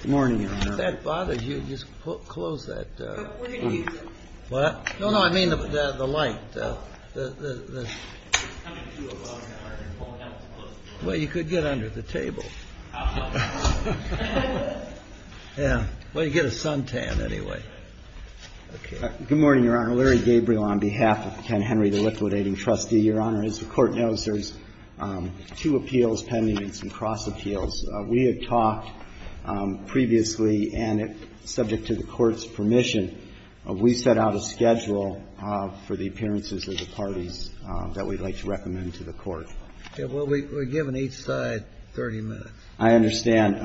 Good morning, Your Honor. Good morning, Your Honor. Larry Gabriel on behalf of Ken Henry, the liquidating trustee. As the Court knows, there's two appeals, 10 meetings and cross appeals. We have talked previously, and subject to the Court's permission, we set out a schedule for the appearances of the parties that we'd like to recommend to the Court. Yeah, well, we're given each side 30 minutes. I understand.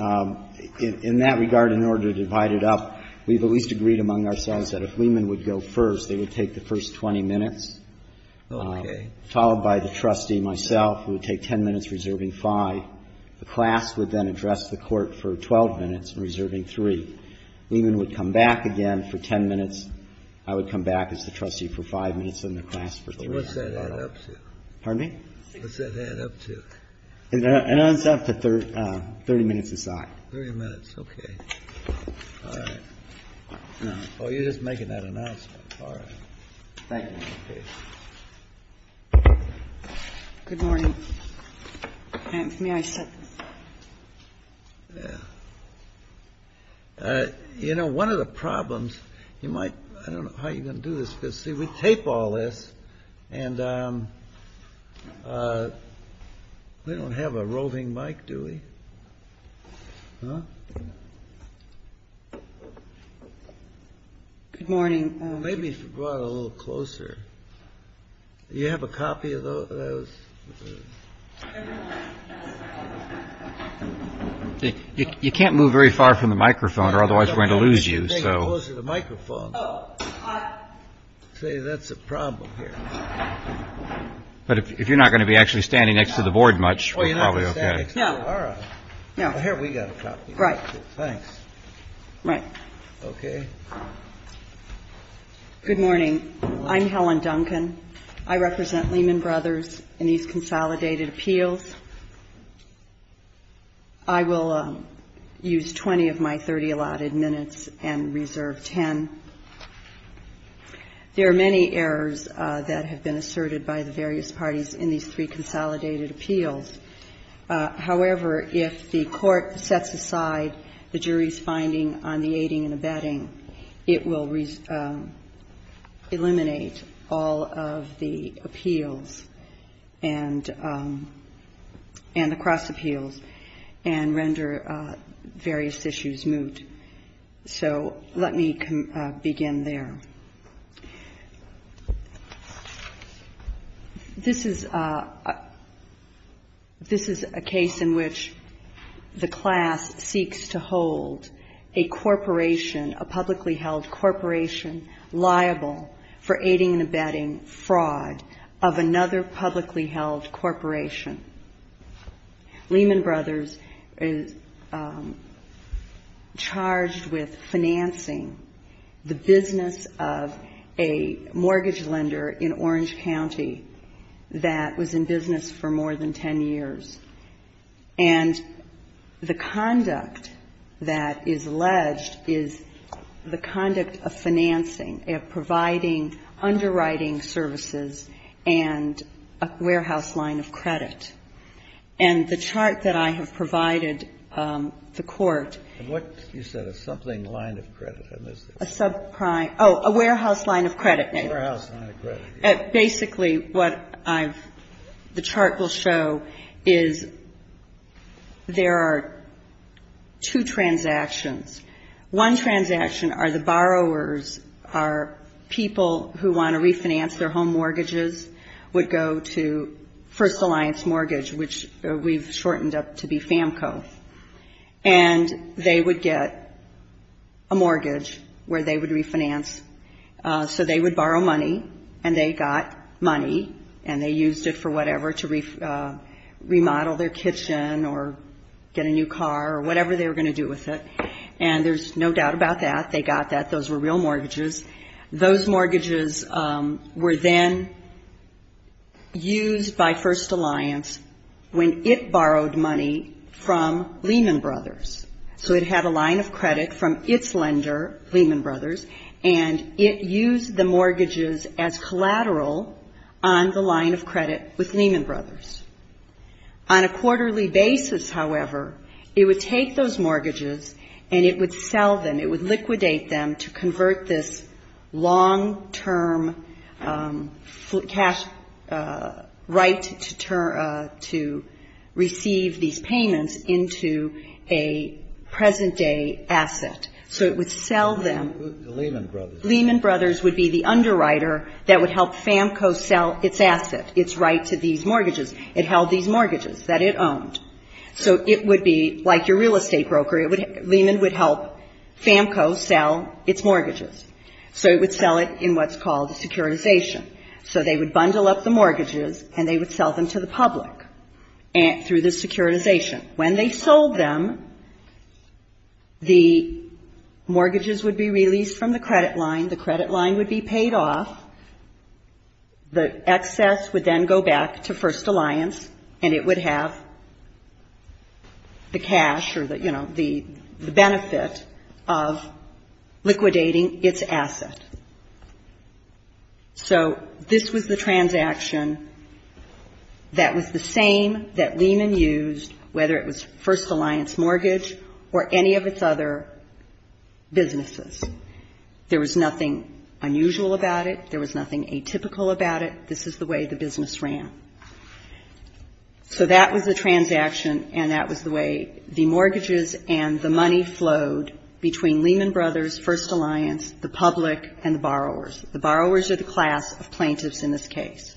In that regard, in order to divide it up, we've at least agreed among ourselves that if Lehman would go first, they would take the first 20 minutes. Okay. Followed by the trustee, myself, who would take 10 minutes, reserving five. The class would then address the Court for 12 minutes, reserving three. Lehman would come back again for 10 minutes. I would come back as the trustee for five minutes, and the class for three. What's that add up to? Pardon me? What's that add up to? It adds up to 30 minutes or five. 30 minutes. Okay. All right. Oh, you're just making that announcement. All right. Good morning. May I start? You know, one of the problems, you might, I don't know how you're going to do this, but see, we tape all this, and we don't have a rolling mic, do we? Huh? Good morning. Maybe if you brought it a little closer. Do you have a copy of those? You can't move very far from the microphone or otherwise we're going to lose you, so. See, that's a problem here. But if you're not going to be actually standing next to the board much, we're probably okay. All right. Good morning. I'm Helen Duncan. I represent Lehman Brothers in these consolidated appeals. I will use 20 of my 30 allotted minutes and reserve 10. There are many errors that have been asserted by the various parties in these three consolidated appeals. However, if the court sets aside the jury's finding on the aiding and abetting, it will eliminate all of the appeals and the cross appeals and render various issues moot. So let me begin there. This is a case in which the class seeks to hold a corporation, a publicly held corporation, liable for aiding and abetting fraud of another publicly held corporation. Lehman Brothers is charged with financing the business of a mortgage lender in Orange County that was in business for more than 10 years. And the conduct that is alleged is the conduct of financing. They're providing underwriting services and a warehouse line of credit. And the chart that I have provided the court. You said a something line of credit. Oh, a warehouse line of credit. A warehouse line of credit. Basically, what the chart will show is there are two transactions. One transaction are the borrowers are people who want to refinance their home mortgages would go to First Alliance Mortgage, which we've shortened up to be FAMCO. And they would get a mortgage where they would refinance. So they would borrow money and they got money and they used it for whatever to remodel their kitchen or get a new car or whatever they were going to do with it. And there's no doubt about that. They got that. Those were real mortgages. Those mortgages were then used by First Alliance when it borrowed money from Lehman Brothers. So it had a line of credit from its lender, Lehman Brothers, and it used the mortgages as collateral on the line of credit with Lehman Brothers. On a quarterly basis, however, it would take those mortgages and it would sell them. It would liquidate them to convert this long-term cash right to receive these payments into a present-day asset. So it would sell them. Lehman Brothers. Lehman Brothers would be the underwriter that would help FAMCO sell its assets, its rights to these mortgages. It held these mortgages that it owned. So it would be like your real estate broker. Lehman would help FAMCO sell its mortgages. So it would sell it in what's called the securitization. So they would bundle up the mortgages and they would sell them to the public through the securitization. When they sold them, the mortgages would be released from the credit line. The credit line would be paid off. The excess would then go back to First Alliance and it would have the cash or, you know, the benefit of liquidating its assets. So this was the transaction that was the same that Lehman used, whether it was First Alliance mortgage or any of its other businesses. There was nothing unusual about it. There was nothing atypical about it. This is the way the business ran. So that was the transaction and that was the way the mortgages and the money flowed between Lehman Brothers, First Alliance, the public, and the borrowers. The borrowers are the class of plaintiffs in this case.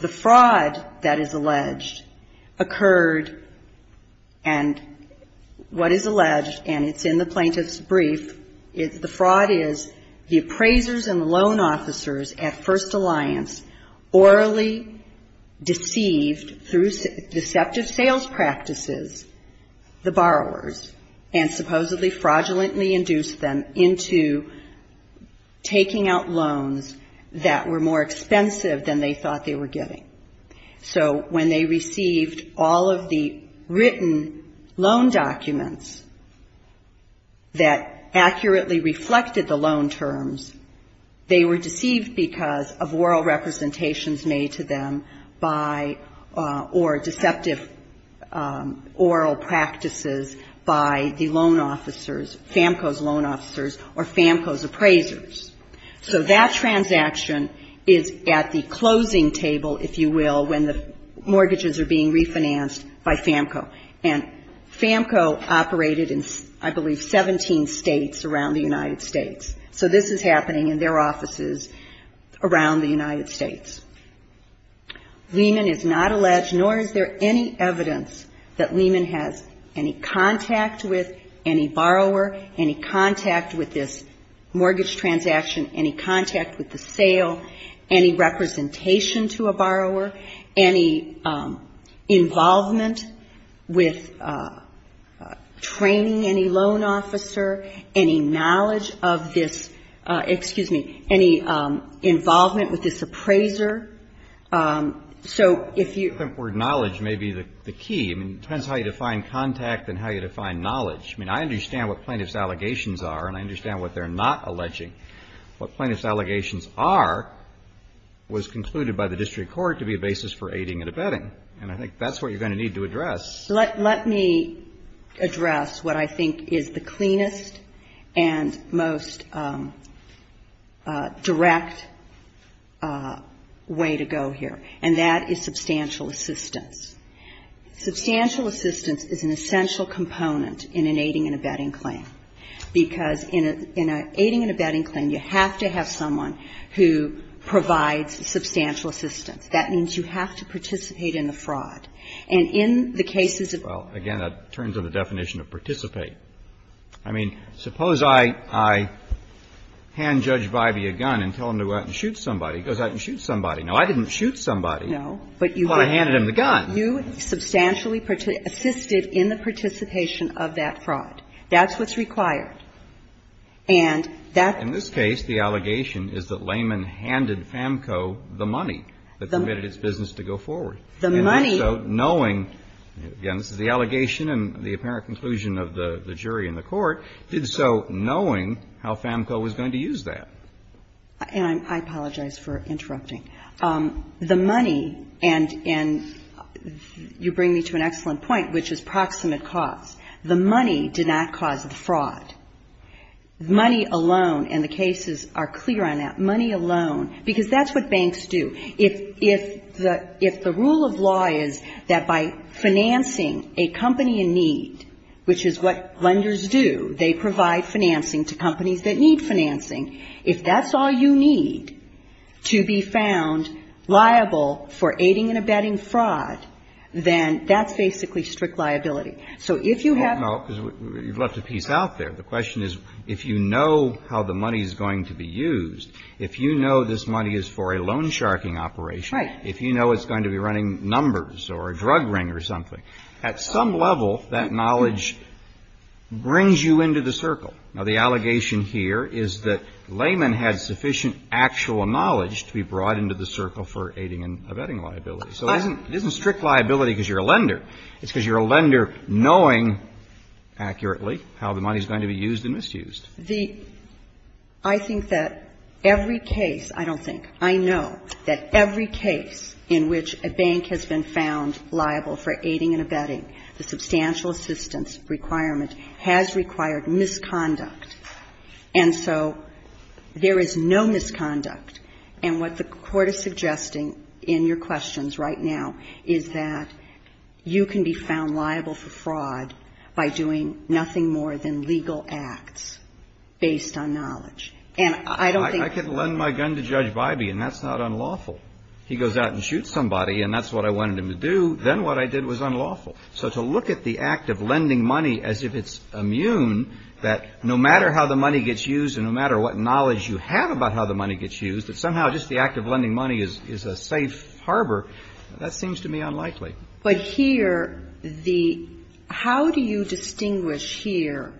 The fraud that is alleged occurred and what is alleged and it's in the plaintiff's brief, the fraud is the appraisers and loan officers at First Alliance orally deceived through deceptive sales practices the borrowers and supposedly fraudulently induced them into taking out loans that were more expensive than they thought they were getting. So when they received all of the written loan documents that accurately reflected the loan terms, they were deceived because of oral representations made to them by or deceptive oral practices by the loan officers, FAMCO's loan officers or FAMCO's appraisers. So that transaction is at the closing table, if you will, when the mortgages are being refinanced by FAMCO. And FAMCO operated in, I believe, 17 states around the United States. So this is happening in their offices around the United States. Lehman is not alleged nor is there any evidence that Lehman has any contact with any borrower, any contact with this mortgage transaction, any contact with the sale, any representation to a borrower, any involvement with training any loan officer, any knowledge of this, excuse me, any involvement with this appraiser. So if you... The word knowledge may be the key. It depends how you define contact and how you define knowledge. I mean, I understand what plaintiff's allegations are and I understand what they're not alleging. What plaintiff's allegations are was concluded by the district court to be a basis for aiding and abetting. And I think that's what you're going to need to address. Let me address what I think is the cleanest and most direct way to go here. And that is substantial assistance. Substantial assistance is an essential component in an aiding and abetting claim. Because in an aiding and abetting claim, you have to have someone who provides substantial assistance. That means you have to participate in a fraud. And in the cases of... Well, again, that turns on the definition of participate. I mean, suppose I hand Judge Vibey a gun and tell him to go out and shoot somebody. He goes out and shoots somebody. Now, I didn't shoot somebody. No, but you did. I handed him the gun. You substantially assisted in the participation of that fraud. That's what's required. And that's... In this case, the allegation is that layman handed FAMCO the money that permitted its business to go forward. The money... And did so knowing... Again, this is the allegation and the apparent conclusion of the jury in the court. Did so knowing how FAMCO was going to use that. And I apologize for interrupting. The money, and you bring me to an excellent point, which is proximate cause. The money did not cause the fraud. Money alone, and the cases are clear on that. Money alone. Because that's what banks do. If the rule of law is that by financing a company in need, which is what lenders do, they provide financing to companies that need financing. If that's all you need to be found liable for aiding and abetting fraud, then that's basically strict liability. So if you have... Well, you've left a piece out there. The question is, if you know how the money is going to be used, if you know this money is for a loan-sharping operation, if you know it's going to be running numbers or a drug ring or something, at some level, that knowledge brings you into the circle. Now, the allegation here is that layman had sufficient actual knowledge to be brought into the circle for aiding and abetting liability. It's because you're a lender knowing accurately how the money is going to be used and misused. I think that every case, I don't think, I know that every case in which a bank has been found liable for aiding and abetting, the substantial assistance requirement has required misconduct. And so there is no misconduct. And what the Court is suggesting in your questions right now is that you can be found liable for fraud by doing nothing more than legal acts based on knowledge. And I don't think... I could lend my gun to Judge Bybee, and that's not unlawful. He goes out and shoots somebody, and that's what I wanted him to do. Then what I did was unlawful. So to look at the act of lending money as if it's immune, that no matter how the money gets used and no matter what knowledge you have about how the money gets used, that somehow just the act of lending money is a safe harbor, that seems to me unlikely. But here, the... How do you distinguish here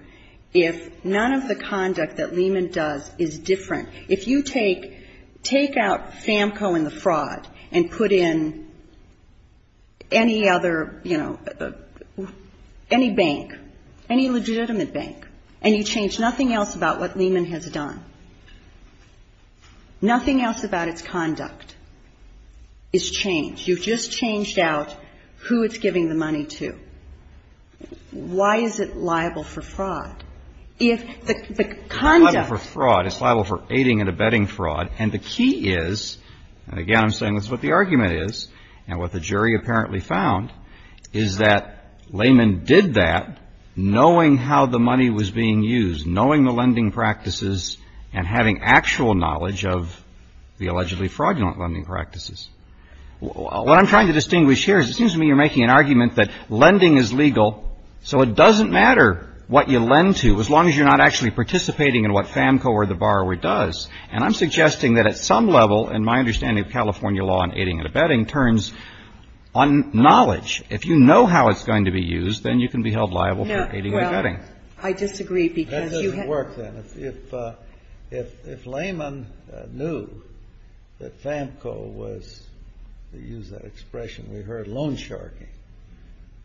if none of the conduct that Lehman does is different? If you take out SAMCO and the fraud and put in any other, you know, any bank, any legitimate bank, and you change nothing else about what Lehman has done, nothing else about its conduct is changed. You've just changed out who it's giving the money to. Why is it liable for fraud if the conduct... It's liable for fraud. It's liable for aiding and abetting fraud. And the key is, and again I'm saying this is what the argument is, and what the jury apparently found, is that Lehman did that knowing how the money was being used, knowing the lending practices and having actual knowledge of the allegedly fraudulent lending practices. What I'm trying to distinguish here is it seems to me you're making an argument that lending is legal, so it doesn't matter what you lend to as long as you're not actually participating in what SAMCO or the borrower does. And I'm suggesting that at some level, in my understanding of California law on aiding and abetting, turns on knowledge. If you know how it's going to be used, then you can be held liable for aiding and abetting. I disagree. That doesn't work, then. If Lehman knew that SAMCO was, to use an expression we heard, loan sharky,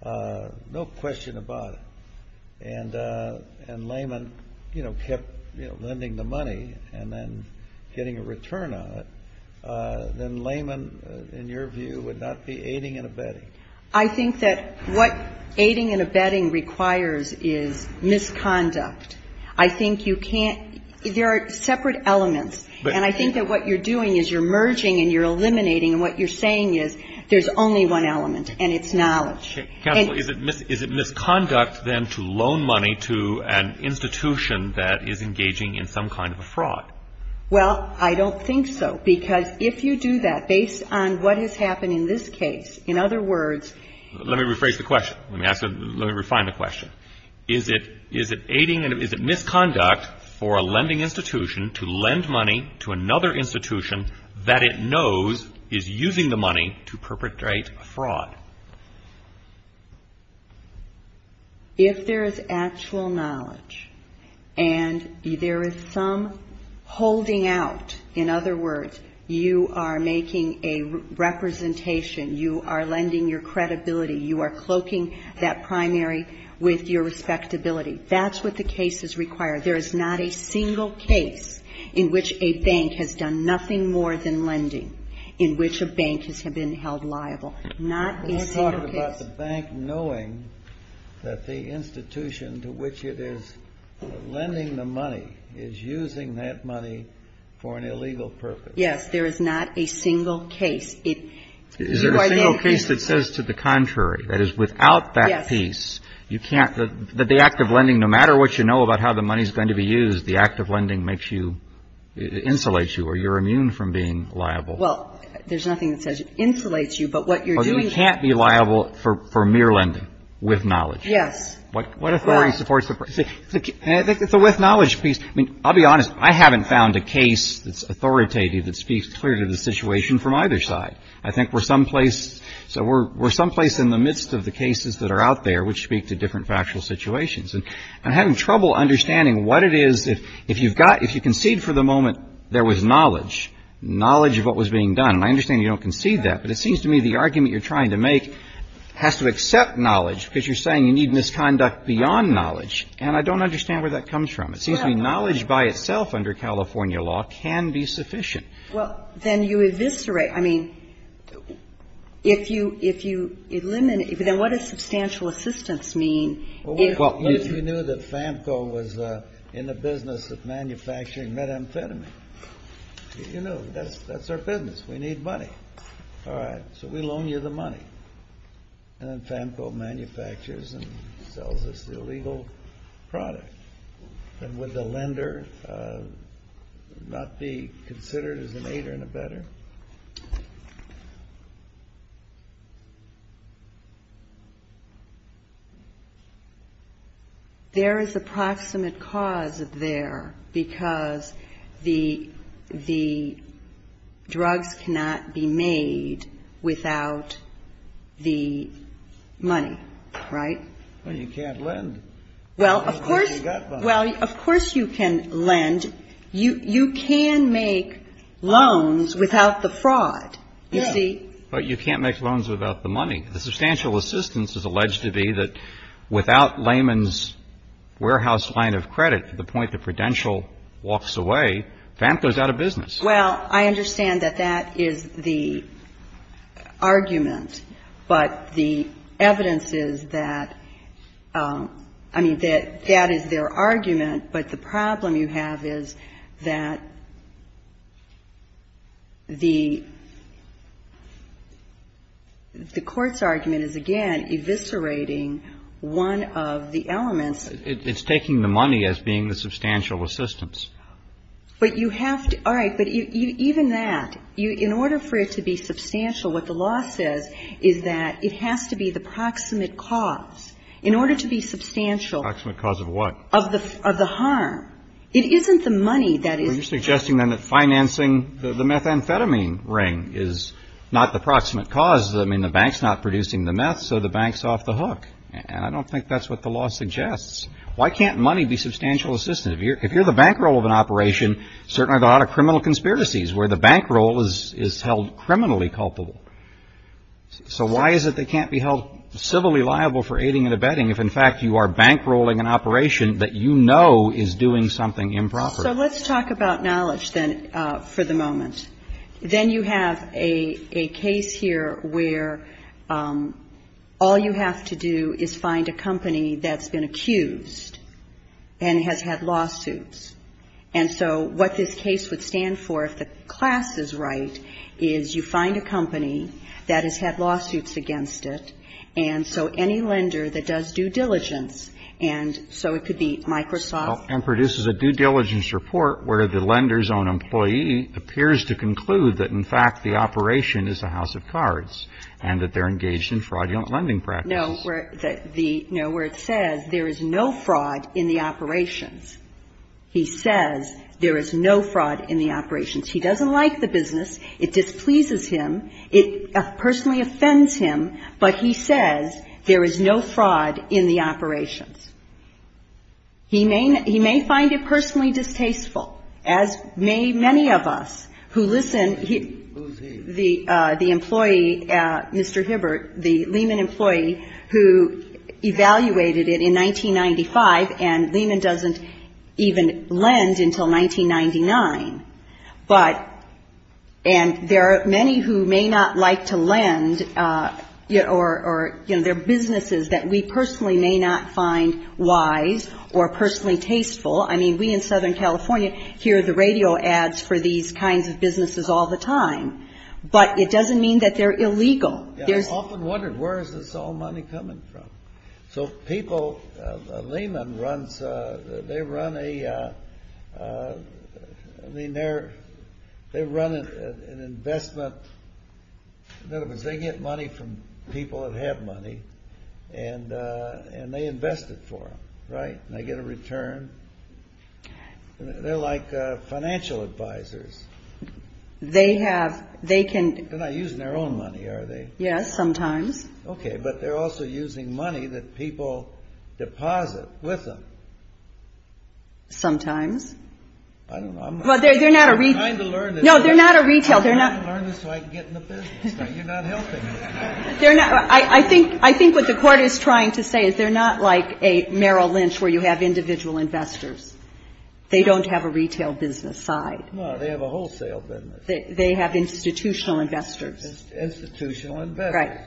no question about it. And Lehman kept lending the money and then getting a return on it, then Lehman, in your view, would not see aiding and abetting. I think that what aiding and abetting requires is misconduct. I think you can't, there are separate elements. And I think that what you're doing is you're merging and you're eliminating, and what you're saying is there's only one element, and it's knowledge. Counsel, is it misconduct, then, to loan money to an institution that is engaging in some kind of a fraud? Well, I don't think so. Because if you do that, based on what has happened in this case, in other words... Let me rephrase the question. Let me refine the question. Is it misconduct for a lending institution to lend money to another institution that it knows is using the money to perpetrate fraud? If there is actual knowledge and there is some holding out, in other words, you are making a representation, you are lending your credibility, you are cloaking that primary with your respectability. That's what the case is required. There is not a single case in which a bank has done nothing more than lending, in which a bank has been held liable. Let's talk about the bank knowing that the institution to which it is lending the money is using that money for an illegal purpose. Yes, there is not a single case. Is there a single piece that says to the contrary, that is, without that piece, that the act of lending, no matter what you know about how the money is going to be used, the act of lending insulates you or you are immune from being liable? Well, there is nothing that says it insulates you, but what you are doing... But you can't be liable for mere lending with knowledge. Yes. What authority supports... So with knowledge, I'll be honest, I haven't found a case that is authoritative that speaks clearly to the situation from either side. I think we are someplace in the midst of the cases that are out there which speak to different factual situations. I'm having trouble understanding what it is... If you concede for the moment there was knowledge, knowledge of what was being done, and I understand you don't concede that, but it seems to me the argument you're trying to make has to accept knowledge because you're saying you need misconduct beyond knowledge, and I don't understand where that comes from. It seems to me knowledge by itself under California law can be sufficient. Well, then you eviscerate... I mean, if you eliminate... Then what does substantial assistance mean? Well, what if you knew that FAMCO was in the business of manufacturing methamphetamine? You know, that's our business. We need money. All right, so we loan you the money. And then FAMCO manufactures and sells us the illegal product. And would the lender not be considered as an aider and abetter? There is a proximate cause there because the drug cannot be made without the money, right? Well, you can't lend. Well, of course you can lend. You can make loans without the fraud. But you can't make loans without the money. The substantial assistance is alleged to be that without layman's warehouse line of credit, to the point the credential walks away, FAMCO's out of business. Well, I understand that that is the argument. But the evidence is that... I mean, that is their argument. But the problem you have is that the court's argument is, again, eviscerating one of the elements. It's taking the money as being the substantial assistance. But you have to... All right, but even that, in order for it to be substantial, what the law says is that it has to be the proximate cause. In order to be substantial... Proximate cause of what? Of the harm. It isn't the money that is... Are you suggesting then that financing the methamphetamine ring is not the proximate cause? I mean, the bank's not producing the meth, so the bank's off the hook. I don't think that's what the law suggests. Why can't money be substantial assistance? Because if you're the bankroll of an operation, certainly there are a lot of criminal conspiracies where the bankroll is held criminally culpable. So why is it that it can't be held civilly liable for aiding and abetting if, in fact, you are bankrolling an operation that you know is doing something improper? So let's talk about knowledge then for the moment. Then you have a case here where all you have to do is find a company that's been accused and has had lawsuits. And so what this case would stand for, if the class is right, is you find a company that has had lawsuits against it, and so any lender that does due diligence, and so it could be Microsoft... And produces a due diligence report where the lender's own employee appears to conclude that, in fact, the operation is a house of cards and that they're engaged in fraudulent lending practices. Where it says there is no fraud in the operations. He says there is no fraud in the operations. He doesn't like the business. It displeases him. It personally offends him. But he says there is no fraud in the operations. He may find it personally distasteful. As many of us who listen, the employee, Mr. Hibbert, the Lehman employee, who evaluated it in 1995 and Lehman doesn't even lend until 1999. But, and there are many who may not like to lend or, you know, there are businesses that we personally may not find wise or personally tasteful. I mean, we in Southern California hear the radio ads for these kinds of businesses all the time. But it doesn't mean that they're illegal. I often wonder where is this all money coming from? So people, Lehman runs, they run a, they run an investment, they get money from people that have money and they invest it for them, right? And they get a return. They're like financial advisors. They have, they can. They're not using their own money, are they? Yes, sometimes. Okay, but they're also using money that people deposit with them. Sometimes. I don't know. Well, they're not a retail. I'm trying to learn it. No, they're not a retail. I'm trying to learn it so I can get in the business. You're not helping me. I think what the court is trying to say is they're not like a Merrill Lynch where you have individual investors. They don't have a retail business side. No, they have a wholesale business. They have institutional investors. Institutional investors.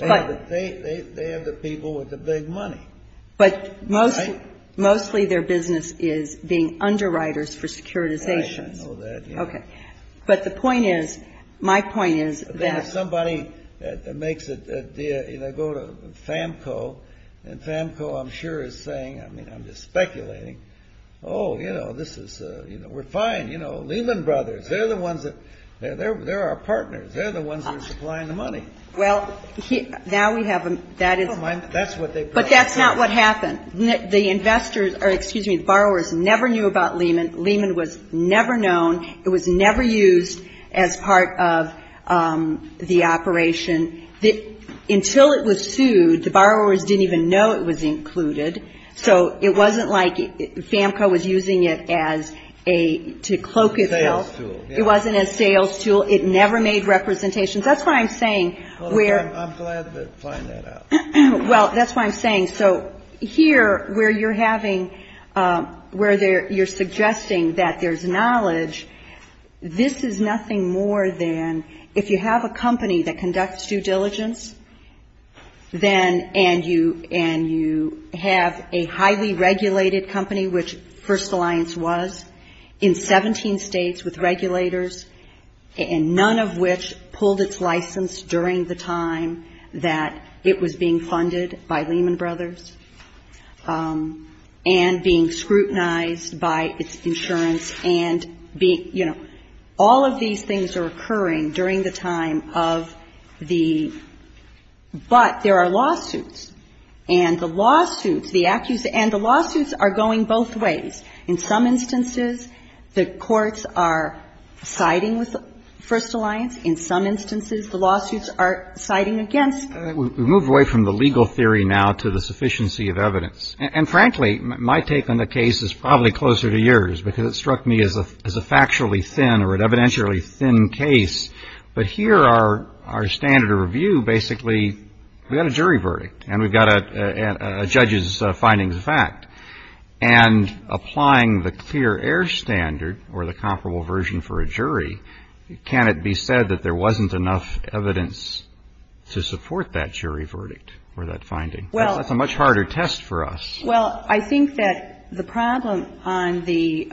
Right. They have the people with the big money. But mostly their business is being underwriters for securitization. Right, I know that. Okay. But the point is, my point is that. If somebody makes a deal, you know, go to FAMCO, and FAMCO I'm sure is saying, I mean, I'm just speculating. Oh, you know, this is, you know, we're fine. You know, Lehman Brothers, they're the ones that, they're our partners. They're the ones that are supplying the money. Well, now we have, that is. That's what they've got. But that's not what happened. The investors, or excuse me, borrowers never knew about Lehman. Lehman was never known. It was never used as part of the operation. Until it was sued, the borrowers didn't even know it was included. So, it wasn't like FAMCO was using it as a, to cloak itself. A sales tool. It wasn't a sales tool. It never made representations. That's what I'm saying. Well, I'm glad to find that out. Well, that's what I'm saying. So, here, where you're having, where you're suggesting that there's knowledge, this is nothing more than, if you have a company that conducts due diligence, then, and you have a highly regulated company, which First Alliance was, in 17 states with regulators, and none of which pulled its license during the time that it was being funded by Lehman Brothers, and being scrutinized by insurance, and being, you know, all of these things are occurring during the time of the, but there are lawsuits, and the lawsuits, the actions, and the lawsuits are going both ways. In some instances, the courts are siding with First Alliance. In some instances, the lawsuits are siding against. We've moved away from the legal theory now to the sufficiency of evidence. And, frankly, my take on the case is probably closer to yours, because it struck me as a factually thin or an evidentially thin case. But here, our standard of review, basically, we've got a jury verdict, and we've got a judge's finding of the fact. And applying the clear air standard, or the comparable version for a jury, can it be said that there wasn't enough evidence to support that jury verdict or that finding? That's a much harder test for us. Well, I think that the problem on the,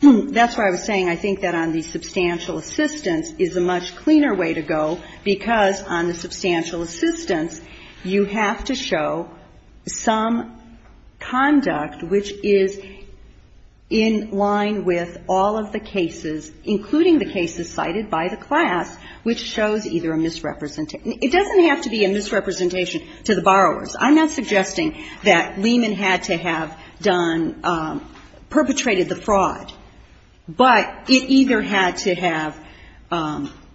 that's why I was saying, I think that on the substantial assistance is a much cleaner way to go, because on the substantial assistance, you have to show some conduct, which is in line with all of the cases, including the cases cited by the class, which shows either a misrepresentation. It doesn't have to be a misrepresentation to the borrowers. I'm not suggesting that Lehman had to have done, perpetrated the fraud. But it either had to have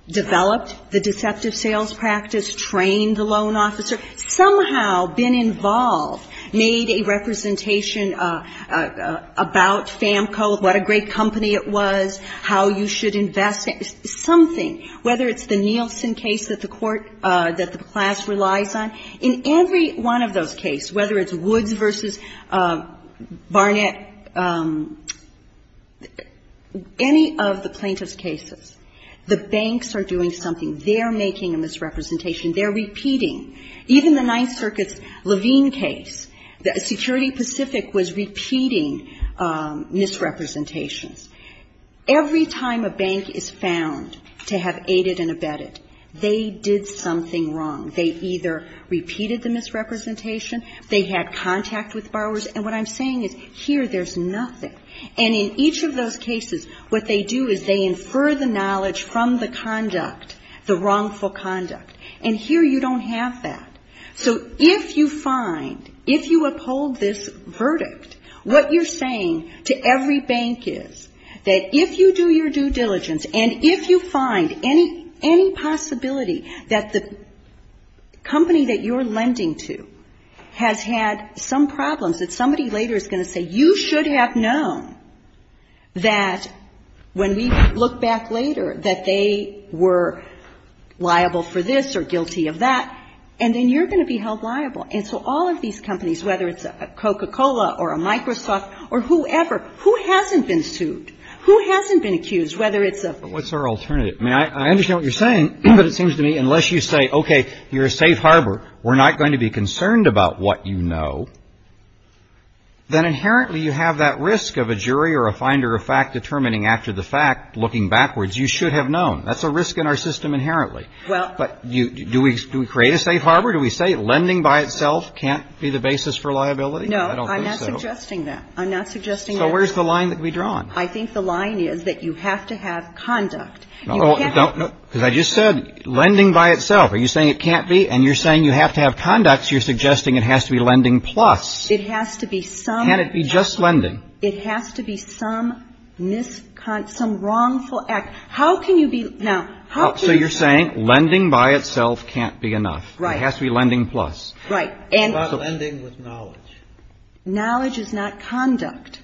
developed the deceptive sales practice, trained the loan officer, somehow been involved, made a representation about FAMCO, what a great company it was, how you should invest, something. Whether it's the Nielsen case that the class relies on, in every one of those cases, whether it's Woods versus Barnett, any of the plaintiff's cases, the banks are doing something. They're making a misrepresentation. They're repeating. Even the Ninth Circuit's Levine case, the security specific, was repeating misrepresentations. Every time a bank is found to have aided and abetted, they did something wrong. They either repeated the misrepresentation, they had contact with borrowers, and what I'm saying is, here, there's nothing. And in each of those cases, what they do is they infer the knowledge from the conduct, the wrongful conduct. And here, you don't have that. So if you find, if you uphold this verdict, what you're saying to every bank is that if you do your due diligence, and if you find any possibility that the company that you're lending to has had some problems, that somebody later is going to say, that when we look back later, that they were liable for this or guilty of that, and then you're going to be held liable. And so all of these companies, whether it's Coca-Cola or Microsoft or whoever, who hasn't been sued, who hasn't been accused, whether it's a... What's our alternative? I mean, I understand what you're saying, but it seems to me, unless you say, okay, you're a safe harbor, we're not going to be concerned about what you know, then inherently you have that risk of a jury or a finder of fact determining after the fact, looking backwards, you should have known. That's a risk in our system inherently. But do we create a safe harbor? Do we say lending by itself can't be the basis for liability? No, I'm not suggesting that. I'm not suggesting that. So where's the line that we draw on? I think the line is that you have to have conduct. Because I just said lending by itself. Are you saying it can't be? And you're saying you have to have conduct. You're suggesting it has to be lending plus. It has to be some... Can it be just lending? It has to be some wrongful act. So you're saying lending by itself can't be enough. It has to be lending plus. Right. What about lending with knowledge? Knowledge is not conduct.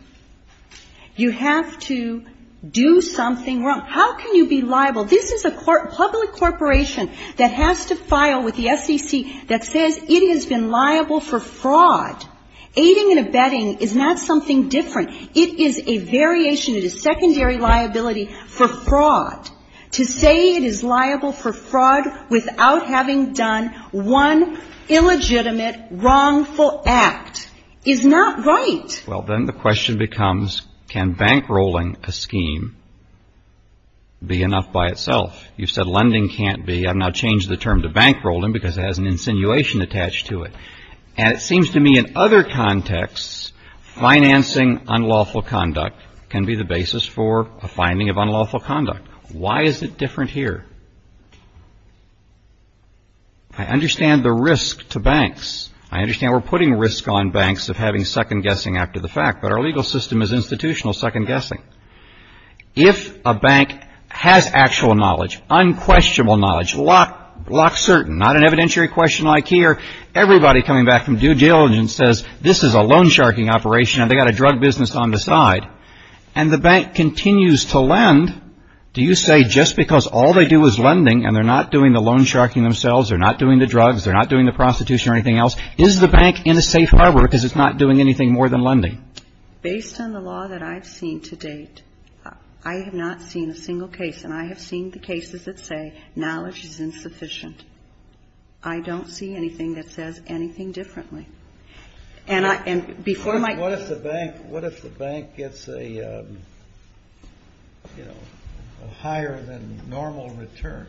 You have to do something wrong. How can you be liable? This is a public corporation that has to file with the SEC that says it has been liable for fraud. Aiding and abetting is not something different. It is a variation. It is secondary liability for fraud. To say it is liable for fraud without having done one illegitimate wrongful act is not right. Well, then the question becomes, can bankrolling a scheme be enough by itself? You've said lending can't be. I've now changed the term to bankrolling because it has an insinuation attached to it. And it seems to me in other contexts, financing unlawful conduct can be the basis for a finding of unlawful conduct. Why is it different here? I understand the risk to banks. I understand we're putting risk on banks of having second-guessing after the fact. But our legal system is institutional second-guessing. If a bank has actual knowledge, unquestionable knowledge, lock certain, not an evidentiary question like here, everybody coming back from due diligence says this is a loan-sharking operation and they've got a drug business on the side. And the bank continues to lend. Do you say just because all they do is lending and they're not doing the loan-sharking themselves, they're not doing the drugs, they're not doing the prostitution or anything else, is the bank in a safe rubber because it's not doing anything more than lending? Based on the law that I've seen to date, I have not seen a single case, and I have seen the cases that say knowledge is insufficient. I don't see anything that says anything differently. What if the bank gets a higher than normal return?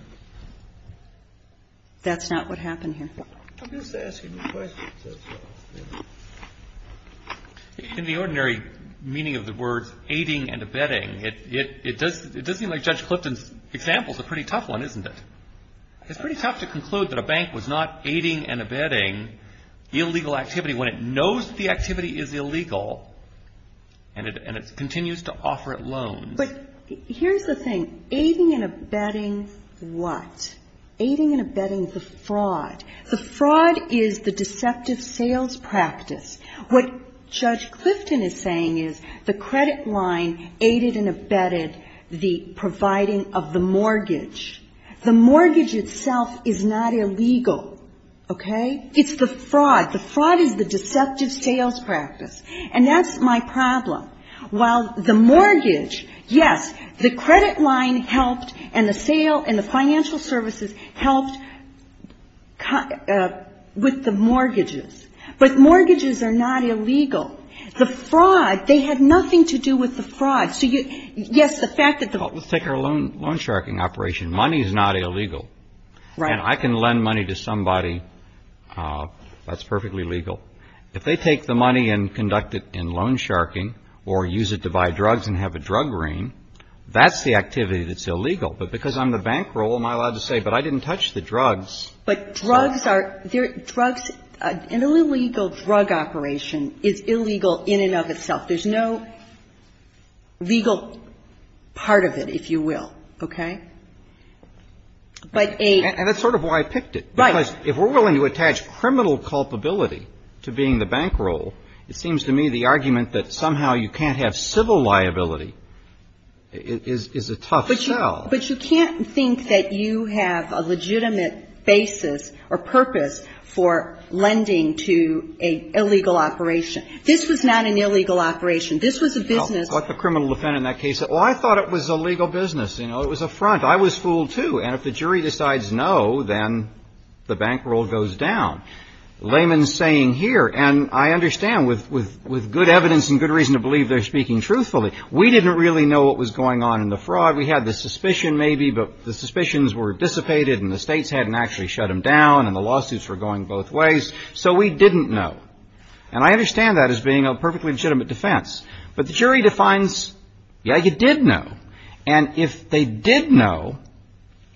That's not what happened here. I'm just asking the question. In the ordinary meaning of the word, aiding and abetting, it does seem like Judge Clifton's example is a pretty tough one, isn't it? It's pretty tough to conclude that a bank was not aiding and abetting illegal activity when it knows the activity is illegal and it continues to offer it loans. But here's the thing. Aiding and abetting what? Aiding and abetting the fraud. The fraud is the deceptive sales practice. What Judge Clifton is saying is the credit line aided and abetted the providing of the mortgage. The mortgage itself is not illegal. It's the fraud. The fraud is the deceptive sales practice, and that's my problem. While the mortgage, yes, the credit line helped and the financial services helped with the mortgages, but mortgages are not illegal. Let's take our loan-sharking operation. Money is not illegal, and I can lend money to somebody. That's perfectly legal. If they take the money and conduct it in loan-sharking or use it to buy drugs and have a drug ring, that's the activity that's illegal. But because I'm the bankroll, am I allowed to say, but I didn't touch the drugs? But drugs are – an illegal drug operation is illegal in and of itself. There's no legal part of it, if you will, okay? But a – And that's sort of why I picked it. Right. Because if we're willing to attach criminal culpability to being the bankroll, it seems to me the argument that somehow you can't have civil liability is a tough sell. But you can't think that you have a legitimate basis or purpose for lending to an illegal operation. This is not an illegal operation. This is a business. I'll put the criminal defendant in that case. Oh, I thought it was a legal business. You know, it was a front. I was fooled, too. And if the jury decides no, then the bankroll goes down. Layman's saying here, and I understand with good evidence and good reason to believe they're speaking truthfully, we didn't really know what was going on in the fraud. We had the suspicion maybe, but the suspicions were dissipated, and the states hadn't actually shut them down, and the lawsuits were going both ways. So we didn't know. And I understand that as being a perfectly legitimate defense. But the jury defines, yeah, you did know. And if they did know,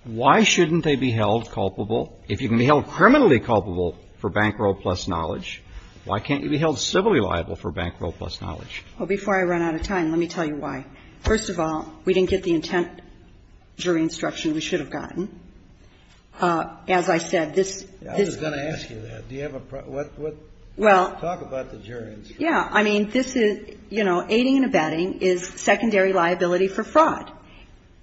why shouldn't they be held culpable? If you can be held criminally culpable for bankroll plus knowledge, why can't you be held civilly liable for bankroll plus knowledge? Well, before I run out of time, let me tell you why. First of all, we didn't get the intent jury instruction we should have gotten. As I said, this — I was going to ask you that. Talk about the jury instruction. Yeah. I mean, this is, you know, aiding and abetting is secondary liability for fraud.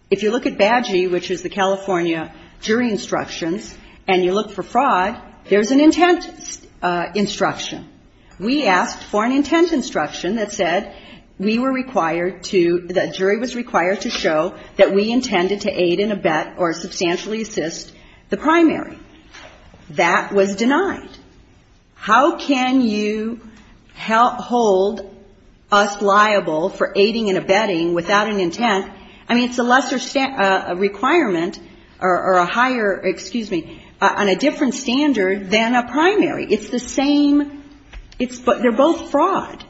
If you look at BADGI, which is the California jury instruction, and you look for fraud, there's an intent instruction. We asked for an intent instruction that said we were required to — that jury was required to show that we intended to aid and abet or substantially assist the primary. That was denied. How can you hold us liable for aiding and abetting without an intent? I mean, it's a lesser requirement or a higher — excuse me — on a different standard than a primary. It's the same — they're both fraud.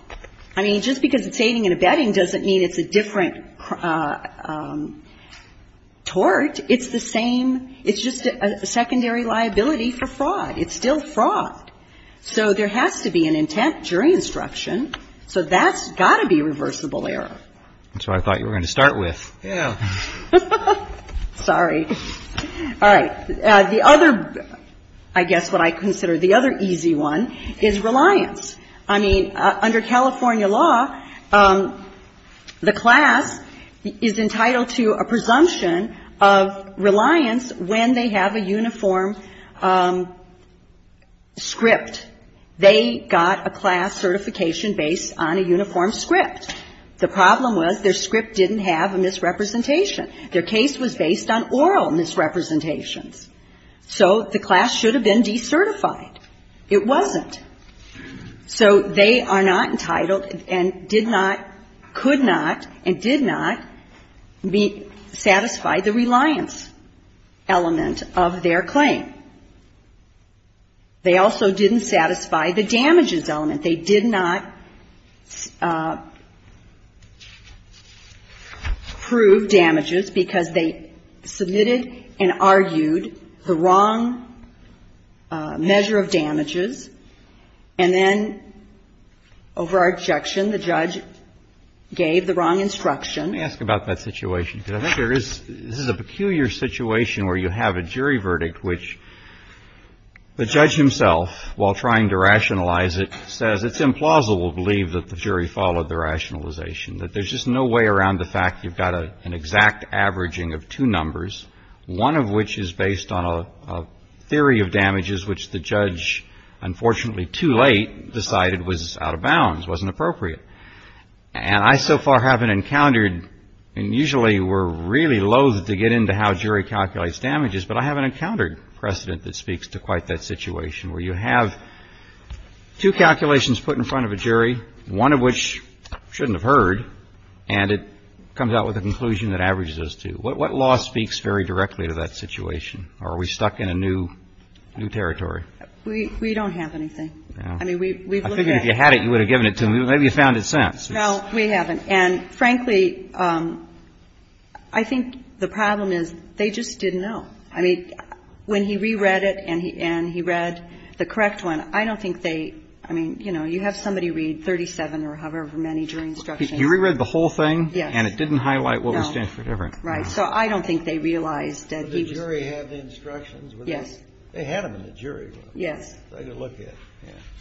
I mean, just because it's aiding and abetting doesn't mean it's a different tort. It's the same — it's just a secondary liability for fraud. It's still fraud. So, there has to be an intent jury instruction. So, that's got to be reversible error. That's what I thought you were going to start with. Yeah. Sorry. All right. The other — I guess what I consider the other easy one is reliance. I mean, under California law, the class is entitled to a presumption of reliance when they have a uniform script. They got a class certification based on a uniform script. The problem was their script didn't have a misrepresentation. Their case was based on oral misrepresentation. So, the class should have been decertified. It wasn't. So, they are not entitled and did not — could not and did not satisfy the reliance element of their claim. They also didn't satisfy the damages element. They did not prove damages because they submitted and argued the wrong measure of damages. And then, over our objection, the judge gave the wrong instruction. Let me ask about that situation. This is a peculiar situation where you have a jury verdict which the judge himself, while trying to rationalize it, says it's implausible to believe that the jury followed the rationalization, that there's just no way around the fact you've got an exact averaging of two numbers, one of which is based on a theory of damages which the judge, unfortunately too late, decided was out of bounds, wasn't appropriate. And I so far haven't encountered — and usually we're really loath to get into how jury calculates damages, but I haven't encountered precedent that speaks to quite that situation where you have two calculations put in front of a jury, one of which shouldn't have heard, and it comes out with a conclusion that averages those two. What law speaks very directly to that situation? Or are we stuck in a new territory? We don't have anything. I figured if you had it, you would have given it to him. Maybe he's found it since. No, we haven't. And frankly, I think the problem is they just didn't know. I mean, when he reread it and he read the correct one, I don't think they — I mean, you know, you have somebody read 37 or however many jury instructions. He reread the whole thing? Yes. And it didn't highlight what was different? No. Right. So I don't think they realized that he — But the jury had the instructions. Yes. They had them in the jury. Yes.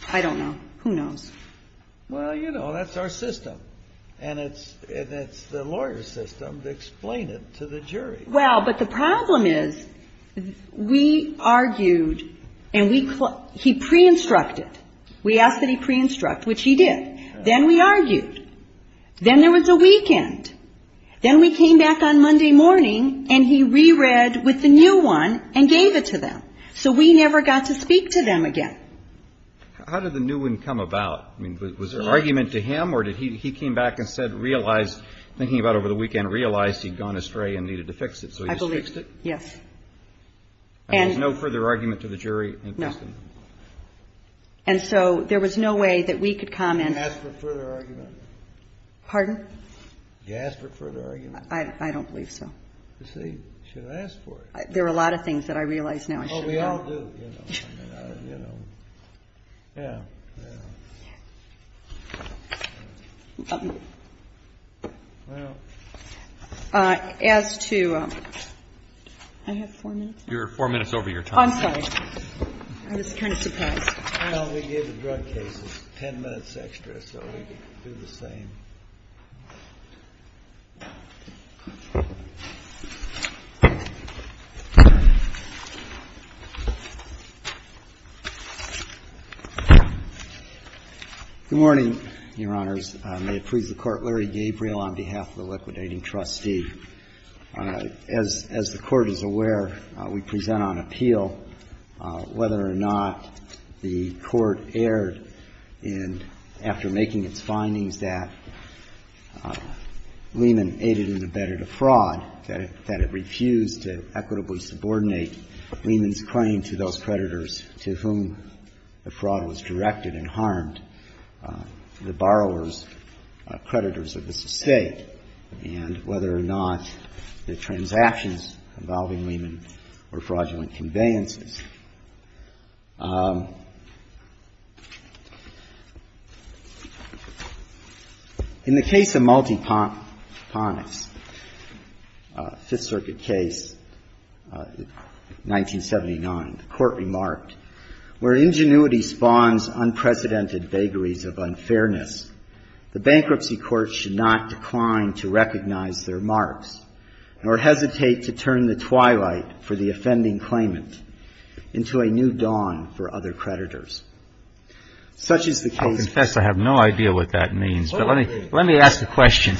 I don't know. Who knows? Well, you know, that's our system. And it's the lawyer's system to explain it to the jury. Well, but the problem is we argued and we — he pre-instructed. We asked that he pre-instruct, which he did. Then we argued. Then there was a weekend. Then we came back on Monday morning and he reread with the new one and gave it to them. So we never got to speak to them again. How did the new one come about? I mean, was there argument to him or did he — he came back and said, realized — thinking about over the weekend, realized he'd gone astray and needed to fix it. I believe — So he just fixed it? Yes. And — There was no further argument to the jury? No. And so there was no way that we could come and — Did you ask for further argument? Pardon? Did you ask for further argument? I don't believe so. You see, you should have asked for it. There are a lot of things that I realize now. Well, we all do, you know. Yeah. As to — I have four minutes? You're four minutes over your time. I'm sorry. I was kind of surprised. Well, we gave you drug cases. Ten minutes extra so we could do the same. Good morning, Your Honors. May it please the Court, Larry Gabriel on behalf of the liquidating trustee. As the Court is aware, we present on appeal whether or not the Court erred in — after making its findings that Lehman aided and abetted a fraud, that it refused to equitably subordinate Lehman's claim to those creditors to whom the fraud was directed and harmed, the borrower's creditors of this estate, and whether or not the transactions involving Lehman were fraudulent conveyances. In the case of Multiponus, Fifth Circuit case, 1979, the Court remarked, Where ingenuity spawns unprecedented vagaries of unfairness, the bankruptcy courts should not decline to recognize their marks, nor hesitate to turn the twilight for the offending claimant into a new dawn for other creditors. Such is the case — I'll confess I have no idea what that means, but let me ask a question.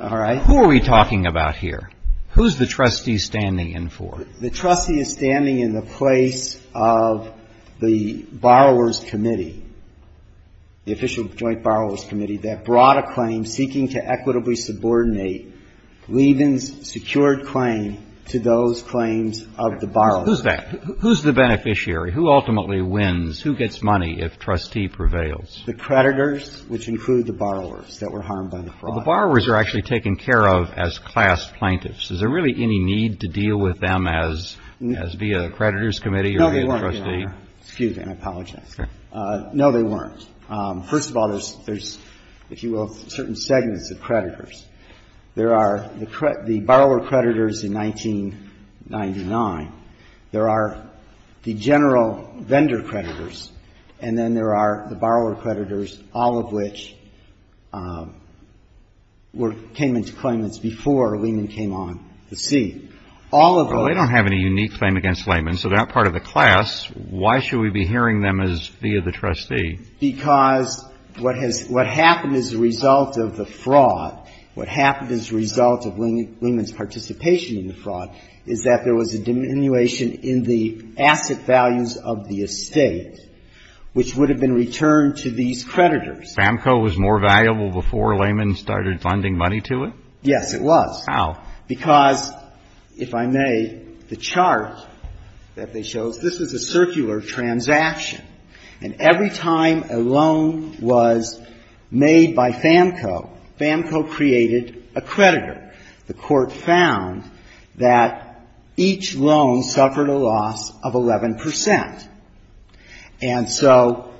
All right. Who are we talking about here? Who's the trustee standing in for? The trustee is standing in the place of the borrower's committee, the official joint borrower's committee that brought a claim seeking to equitably subordinate Lehman's secured claim to those claims of the borrower. Who's the beneficiary? Who ultimately wins? Who gets money if trustee prevails? The creditors, which include the borrowers that were harmed by the fraud. The borrowers are actually taken care of as class plaintiffs. Is there really any need to deal with them as via the creditors' committee or via the trustee? No, there weren't. Excuse me. I apologize. No, there weren't. First of all, there's, if you will, certain segments of creditors. There are the borrower creditors in 1999. There are the general vendor creditors, and then there are the borrower creditors, all of which came into claimants before Lehman came on the scene. Well, they don't have any unique claim against Lehman, so they're not part of the class. Why should we be hearing them as via the trustee? Because what happened as a result of the fraud, what happened as a result of Lehman's participation in the fraud, is that there was a diminution in the asset values of the estate, which would have been returned to these creditors. FAMCO was more valuable before Lehman started funding money to it? Yes, it was. How? Because, if I may, the chart that they show, this is a circular transaction. And every time a loan was made by FAMCO, FAMCO created a creditor. The court found that each loan suffered a loss of 11%. And so,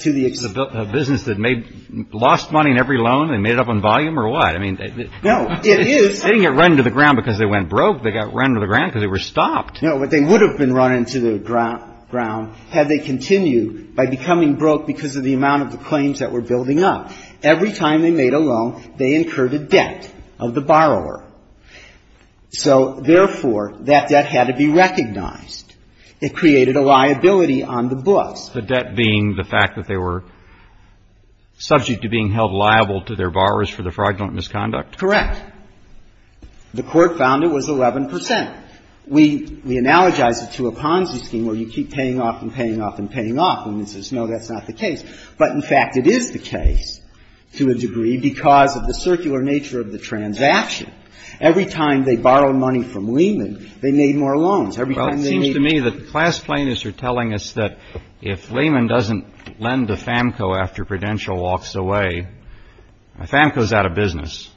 to the extent... This is a business that lost money in every loan and made it up in volume, or what? No, it is. They didn't get run to the ground because they went broke. They got run to the ground because they were stopped. No, but they would have been run into the ground had they continued by becoming broke because of the amount of the claims that were building up. Every time they made a loan, they incurred a debt of the borrower. So, therefore, that debt had to be recognized. It created a liability on the book. The debt being the fact that they were subject to being held liable to their borrowers for the fraudulent misconduct? Correct. The court found it was 11%. We analogize it to a Ponzi scheme where you keep paying off and paying off and paying off, and we say, no, that's not the case. But, in fact, it is the case to a degree because of the circular nature of the transaction. Every time they borrow money from Lehman, they made more loans. Well, it seems to me that the class plaintiffs are telling us that if Lehman doesn't lend to FAMCO after Prudential walks away, FAMCO is out of business.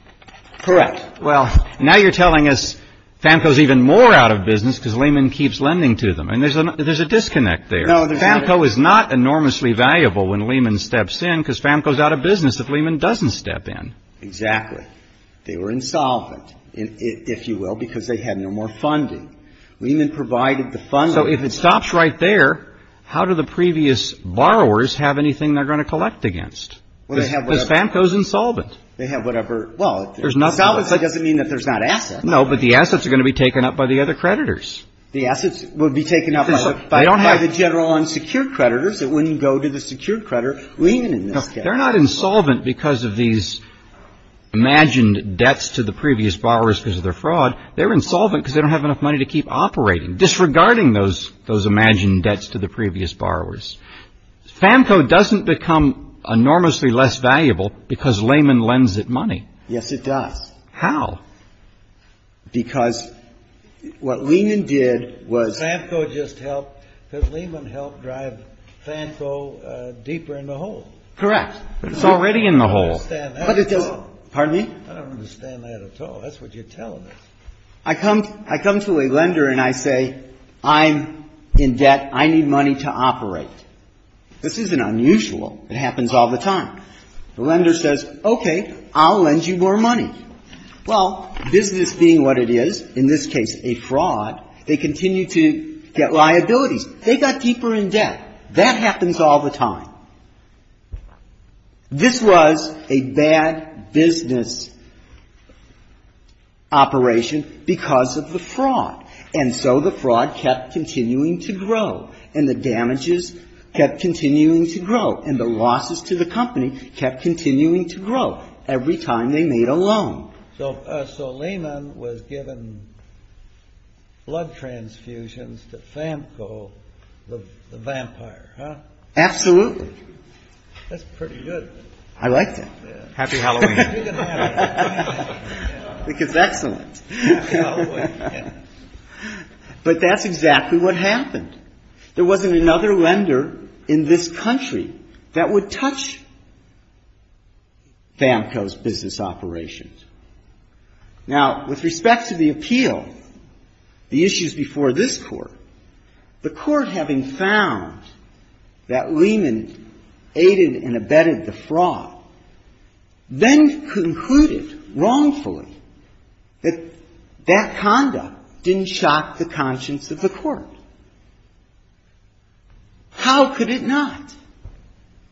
Correct. Well, now you're telling us FAMCO is even more out of business because Lehman keeps lending to them, and there's a disconnect there. FAMCO is not enormously valuable when Lehman steps in because FAMCO is out of business if Lehman doesn't step in. Exactly. They were insolvent, if you will, because they had no more funding. Lehman provided the funding. So, if it stops right there, how do the previous borrowers have anything they're going to collect against? Because FAMCO is insolvent. They have whatever, well, it doesn't mean that there's not assets. No, but the assets are going to be taken up by the other creditors. The assets will be taken up by the general unsecured creditors that when you go to the secured creditor, Lehman is not there. They're not insolvent because of these imagined debts to the previous borrowers because of their fraud. They're insolvent because they don't have enough money to keep operating, disregarding those imagined debts to the previous borrowers. FAMCO doesn't become enormously less valuable because Lehman lends it money. Yes, it does. How? Because what Lehman did was... FAMCO just helped, because Lehman helped drive FAMCO deeper in the hole. Correct. It's already in the hole. I don't understand that at all. Pardon me? I don't understand that at all. That's what you're telling us. I come to a lender and I say, I'm in debt. I need money to operate. This isn't unusual. It happens all the time. The lender says, okay, I'll lend you more money. Well, business being what it is, in this case a fraud, they continue to get liabilities. They got deeper in debt. That happens all the time. This was a bad business operation because of the fraud. And so the fraud kept continuing to grow. And the damages kept continuing to grow. And the losses to the company kept continuing to grow every time they made a loan. So Lehman was giving blood transfusions to FAMCO, the vampire, huh? Absolutely. That's pretty good. I like that. Happy Halloween. Which is excellent. But that's exactly what happened. There wasn't another lender in this country that would touch FAMCO's business operations. Now, with respect to the appeal, the issues before this court, the court having found that Lehman aided and abetted the fraud, then concluded wrongfully that that conduct didn't shock the conscience of the court. How could it not?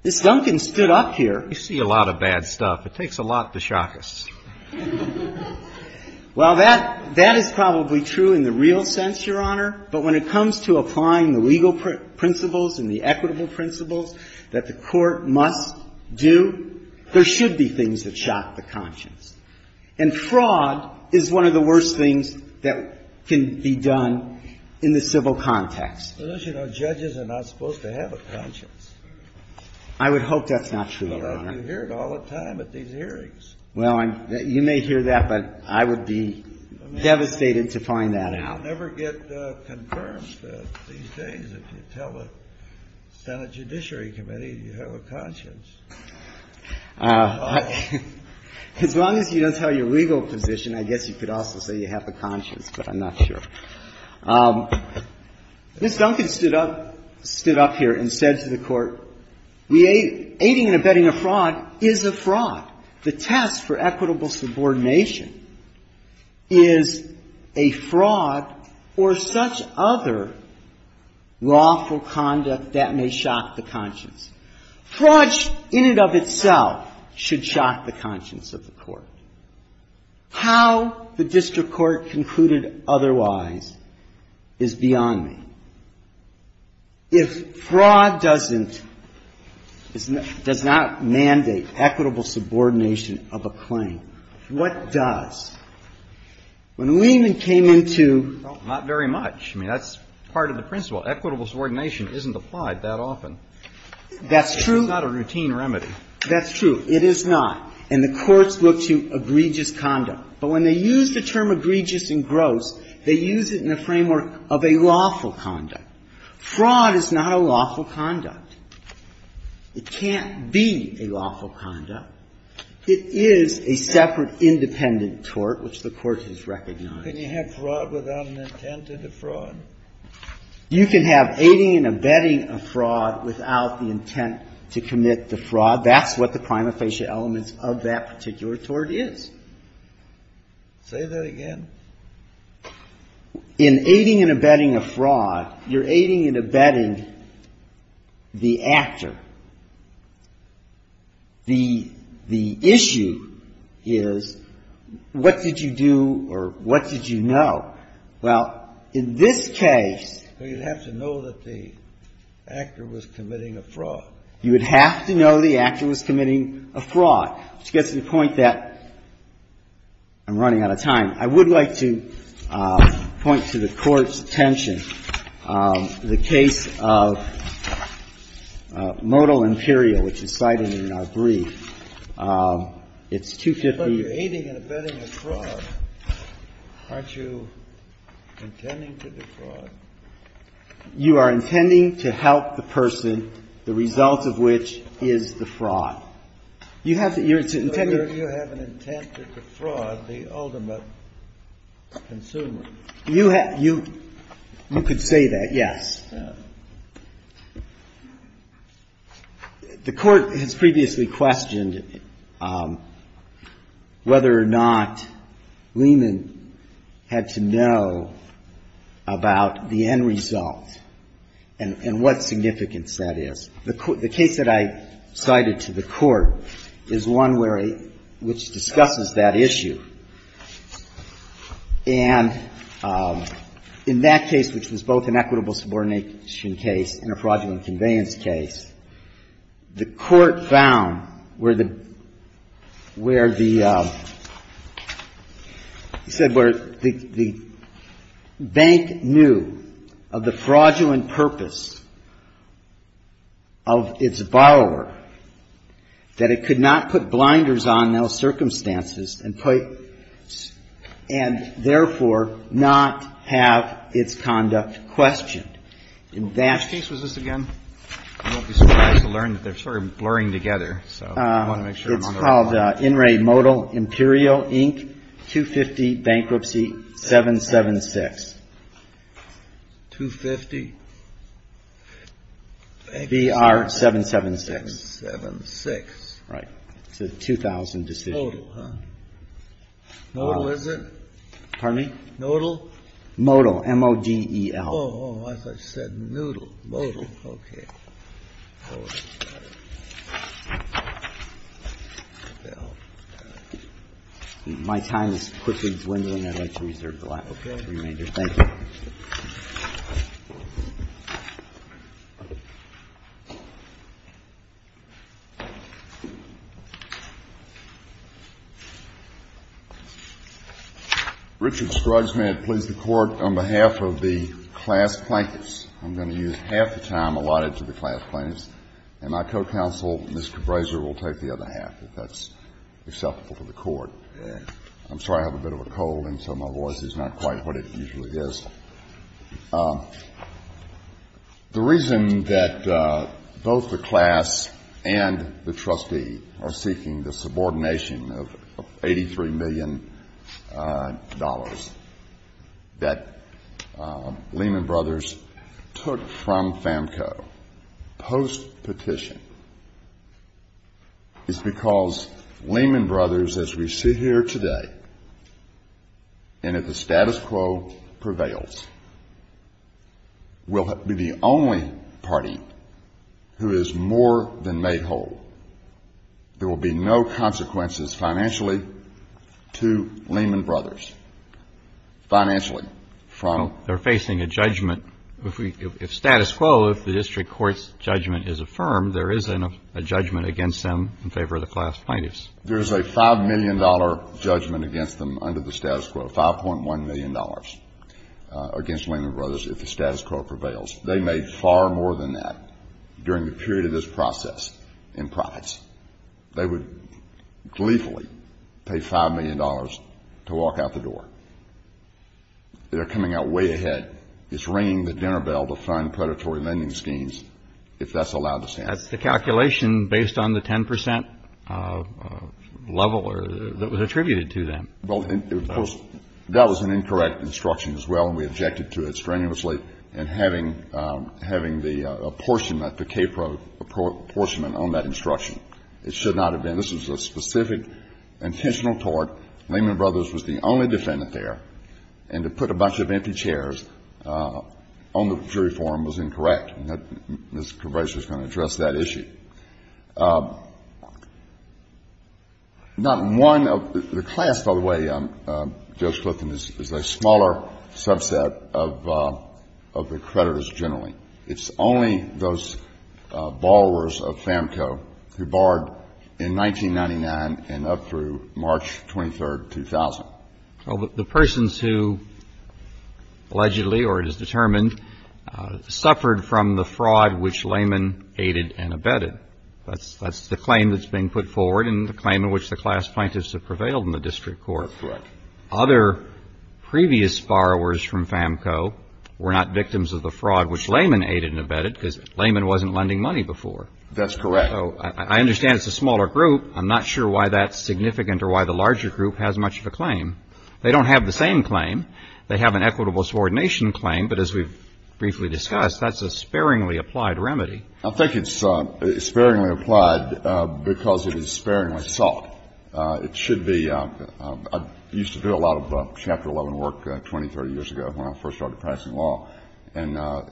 If Duncan stood up here... I see a lot of bad stuff. It takes a lot to shock us. Well, that is probably true in the real sense, Your Honor. But when it comes to applying the legal principles and the equitable principles that the court must do, there should be things that shock the conscience. And fraud is one of the worst things that can be done in the civil context. Well, as you know, judges are not supposed to have a conscience. I would hope that's not true, Your Honor. But I hear it all the time at these hearings. Well, you may hear that, but I would be devastated to find that out. You never get concurrence these days if you tell the Senate Judiciary Committee you have a conscience. As long as you don't tell your legal position, I guess you could also say you have a conscience, but I'm not sure. If Duncan stood up here and said to the court, aiding and abetting a fraud is a fraud. The test for equitable subordination is a fraud or such other lawful conduct that may shock the conscience. Fraud in and of itself should shock the conscience of the court. How the district court concluded otherwise is beyond me. If fraud doesn't, does not mandate equitable subordination of a claim, what does? When we even came into... Well, not very much. I mean, that's part of the principle. Equitable subordination isn't applied that often. That's true. It's not a routine remedy. That's true. It is not. And the courts look to egregious conduct. But when they use the term egregious and gross, they use it in the framework of a lawful conduct. Fraud is not a lawful conduct. It can't be a lawful conduct. It is a separate independent tort, which the court has recognized. Can you have fraud without an intent to defraud? You can have aiding and abetting a fraud without the intent to commit defraud. That's what the prima facie element of that particular tort is. Say that again. In aiding and abetting a fraud, you're aiding and abetting the actor. The issue is what did you do or what did you know? Well, in this case... Well, you'd have to know that the actor was committing a fraud. You'd have to know the actor was committing a fraud to get to the point that... I'm running out of time. I would like to point to the Court's attention. The case of Modal Imperial, which is cited in R3, it's 250... But you're aiding and abetting a fraud. Aren't you intending to defraud? You are intending to help the person, the result of which is defraud. You have to... You have an intent to defraud the ultimate consumer. You could say that, yes. The Court has previously questioned whether or not Lehman had to know about the end result and what significance that is. The case that I cited to the Court is one which discusses that issue. And in that case, which was both an equitable subordination case and a fraudulent conveyance case, the Court found where the bank knew of the fraudulent purpose of its borrower, that it could not put blinders on those circumstances and, therefore, not have its conduct questioned. Which case was this again? I won't be surprised to learn that they're sort of blurring together. It's called In Re Modal Imperial Inc. 250 Bankruptcy 776. 250? BR 776. 776. Right. It's a 2000 decision. Modal, huh? Modal, isn't it? Pardon me? Modal? Modal, M-O-D-E-L. Oh, I thought you said noodle, modal. Okay. My time is quickly dwindling. I'd like to reserve the last three minutes. Thank you. Thank you. Richard Scruggs, may I plead the Court on behalf of the class plaintiffs. I'm going to use half the time allotted to the class plaintiffs, and my co-counsel, Mr. Brazier, will take the other half if that's acceptable to the Court. I'm sorry, I have a bit of a cold, and so my voice is not quite what it usually is. The reason that both the class and the trustee are seeking the subordination of $83 million that Lehman Brothers took from FAMCO post-petition is because Lehman Brothers, as we see here today, and if the status quo prevails, will be the only party who has more than made whole. There will be no consequences financially to Lehman Brothers. Financially. They're facing a judgment. If status quo, if the district court's judgment is affirmed, there is a judgment against them in favor of the class plaintiffs. There is a $5 million judgment against them under the status quo, $5.1 million against Lehman Brothers if the status quo prevails. They made far more than that during the period of this process in profits. They would gleefully pay $5 million to walk out the door. They're coming out way ahead. It's ringing the dinner bell to fund predatory lending schemes if that's allowed to stand. The calculation based on the 10% level that was attributed to them. Well, that was an incorrect instruction as well, and we objected to it strenuously, and having the apportionment, the KPRO apportionment on that instruction. It should not have been. This was a specific intentional tort. Lehman Brothers was the only defendant there, and to put a bunch of empty chairs on the jury forum was incorrect. This probation is going to address that issue. Not one of the class, by the way, I'm just looking, is a smaller subset of the creditors generally. It's only those borrowers of FAMCO who borrowed in 1999 and up through March 23, 2000. The persons who allegedly or it is determined suffered from the fraud which Lehman aided and abetted. That's the claim that's been put forward and the claim in which the class plaintiffs have prevailed in the district court. That's right. Other previous borrowers from FAMCO were not victims of the fraud which Lehman aided and abetted because Lehman wasn't lending money before. That's correct. So I understand it's a smaller group. I'm not sure why that's significant or why the larger group has much of a claim. They don't have the same claim. They have an equitable subordination claim, but as we've briefly discussed, that's a sparingly applied remedy. I think it's sparingly applied because it is sparingly sought. It should be. I used to do a lot of Chapter 11 work 20, 30 years ago when I first started passing law, and I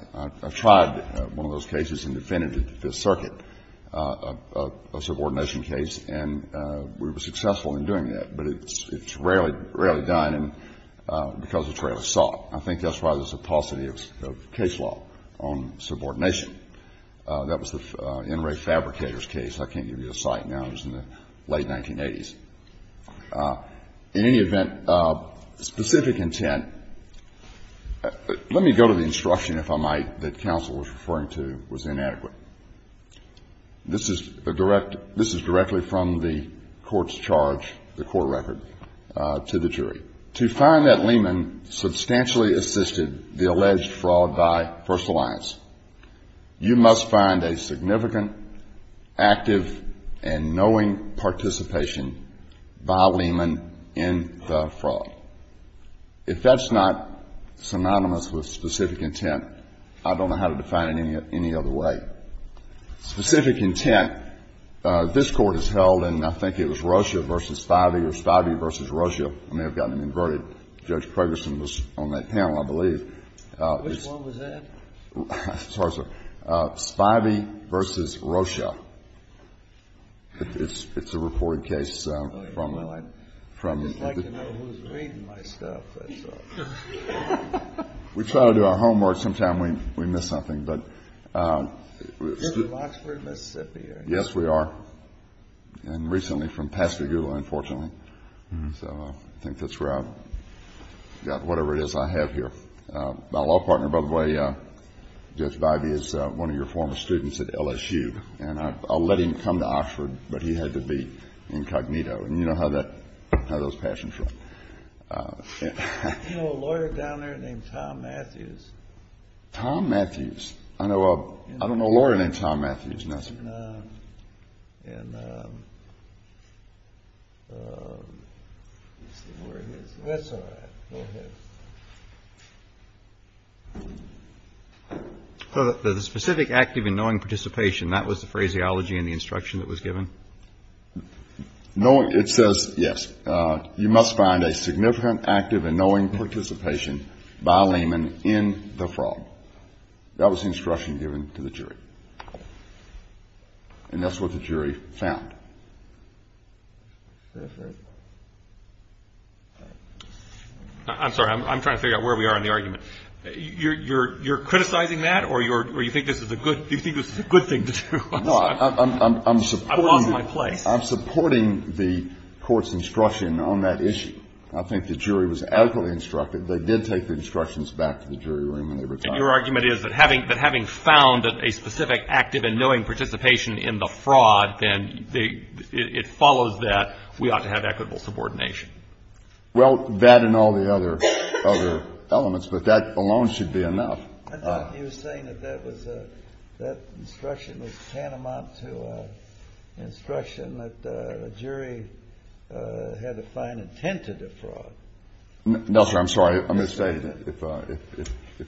tried one of those cases and defended the Fifth Circuit, a subordination case, and we were successful in doing that, but it's rarely done because it's rarely sought. I think that's why there's a paucity of case law on subordination. That was the NRA fabricator's case. I can't give you the site now. It was in the late 1980s. In any event, specific intent. Let me go to the instruction, if I might, that counsel was referring to was inadequate. This is directly from the court's charge, the court record, to the jury. To find that Lehman substantially assisted the alleged fraud by First Alliance, you must find a significant, active, and knowing participation by Lehman in the fraud. If that's not synonymous with specific intent, I don't know how to define it any other way. Specific intent. This court has held, and I think it was Rocha v. Spivey or Spivey v. Rocha. I may have gotten it inverted. Judge Ferguson was on that panel, I believe. Which one was that? I'm sorry, sir. Spivey v. Rocha. It's a reported case. I'd like to know who's reading my stuff. We try to do our homework. Sometimes we miss something. You're from Oxford, Mississippi, aren't you? Yes, we are. And recently from Pascagoula, unfortunately. So I think that's where I've got whatever it is I have here. My law partner, by the way, Judge Spivey, is one of your former students at LSU. And I let him come to Oxford, but he had to be incognito. And you know how those passions work. You know a lawyer down there named Tom Matthews? Tom Matthews? I don't know a lawyer named Tom Matthews. No, sir. And where is he? That's all right. Go ahead. The specific active in knowing participation, that was the phraseology in the instruction that was given? It says, yes, you must find a significant active in knowing participation by a layman in the fraud. That was the instruction given to the jury. And that's what the jury found. I'm sorry, I'm trying to figure out where we are in the argument. You're criticizing that, or do you think this is a good thing to do? No, I'm supporting the court's instruction on that issue. I think the jury was adequately instructed. They did take the instructions back to the jury room. And your argument is that having found a specific active in knowing participation in the fraud, then it follows that we ought to have equitable subordination. Well, that and all the other elements, but that alone should be enough. I thought you were saying that that instruction was tantamount to an instruction that the jury had a fine intent to defraud. No, sir, I'm sorry. I'm going to say,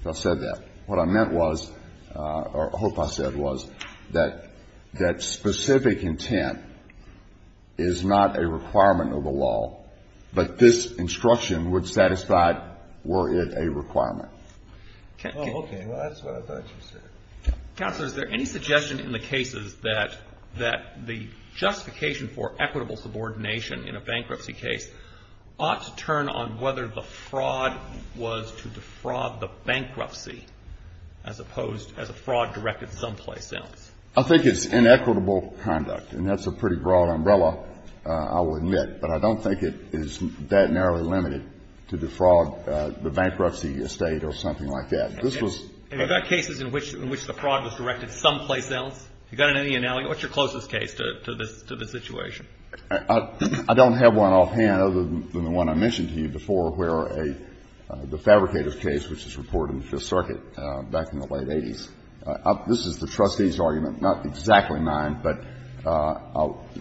if I said that, what I meant was, or I hope I said was, that that specific intent is not a requirement of the law, but this instruction would satisfy were it a requirement. Oh, okay. Well, that's what I thought you said. Counselor, is there any suggestion in the cases that the justification for equitable subordination in a bankruptcy case ought to turn on whether the fraud was to defraud the bankruptcy, as opposed to a fraud directed someplace else? I think it's inequitable conduct, and that's a pretty broad umbrella, I will admit. But I don't think it is that narrowly limited to defraud the bankruptcy estate or something like that. Are there cases in which the fraud was directed someplace else? Is there any analogy? What's your closest case to the situation? I don't have one offhand other than the one I mentioned to you before, where the fabricator's case, which was reported in the Fifth Circuit back in the late 80s. This is the trustee's argument, not exactly mine, but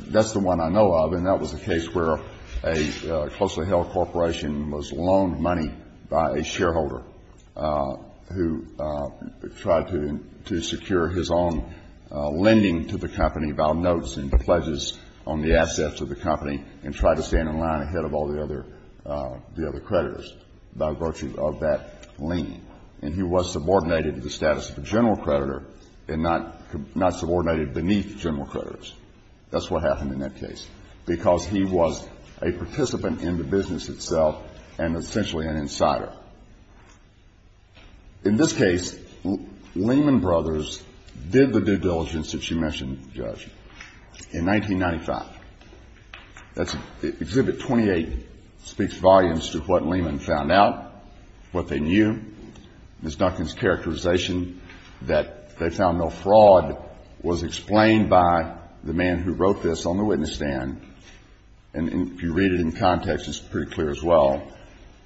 that's the one I know of, and that was the case where a closely held corporation was loaned money by a shareholder who tried to secure his own lending to the company by notes and pledges on the assets of the company and tried to stand in line ahead of all the other creditors by virtue of that lending. And he was subordinated to the status of a general creditor and not subordinated beneath general creditors. That's what happened in that case, because he was a participant in the business itself and essentially an insider. In this case, Lehman Brothers did the due diligence that you mentioned, Judge, in 1995. Exhibit 28 speaks volumes to what Lehman found out, what they knew. Ms. Duncan's characterization that they found no fraud was explained by the man who wrote this on the witness stand, and if you read it in context, it's pretty clear as well,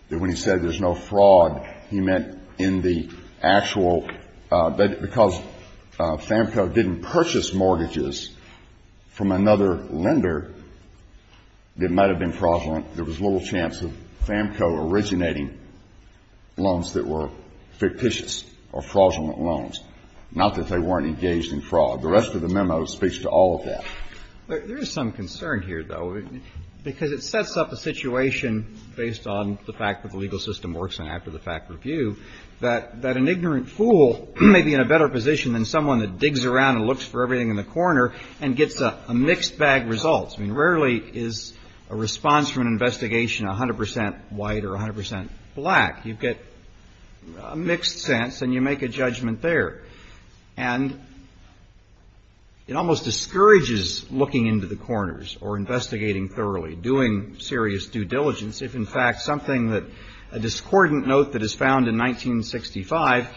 that when he said there's no fraud, he meant in the actual, because FAMCO didn't purchase mortgages from another lender, they might have been fraudulent. There was little chance of FAMCO originating loans that were fictitious or fraudulent loans, not that they weren't engaged in fraud. The rest of the memo speaks to all of that. There is some concern here, though, because it sets up a situation based on the fact that the legal system works and after the fact review that an ignorant fool may be in a better position than someone that digs around and looks for everything in the corner and gets a mixed bag results. Rarely is a response from an investigation 100% white or 100% black. You get a mixed sense and you make a judgment there. And it almost discourages looking into the corners or investigating thoroughly, doing serious due diligence, if in fact something that a discordant note that is found in 1965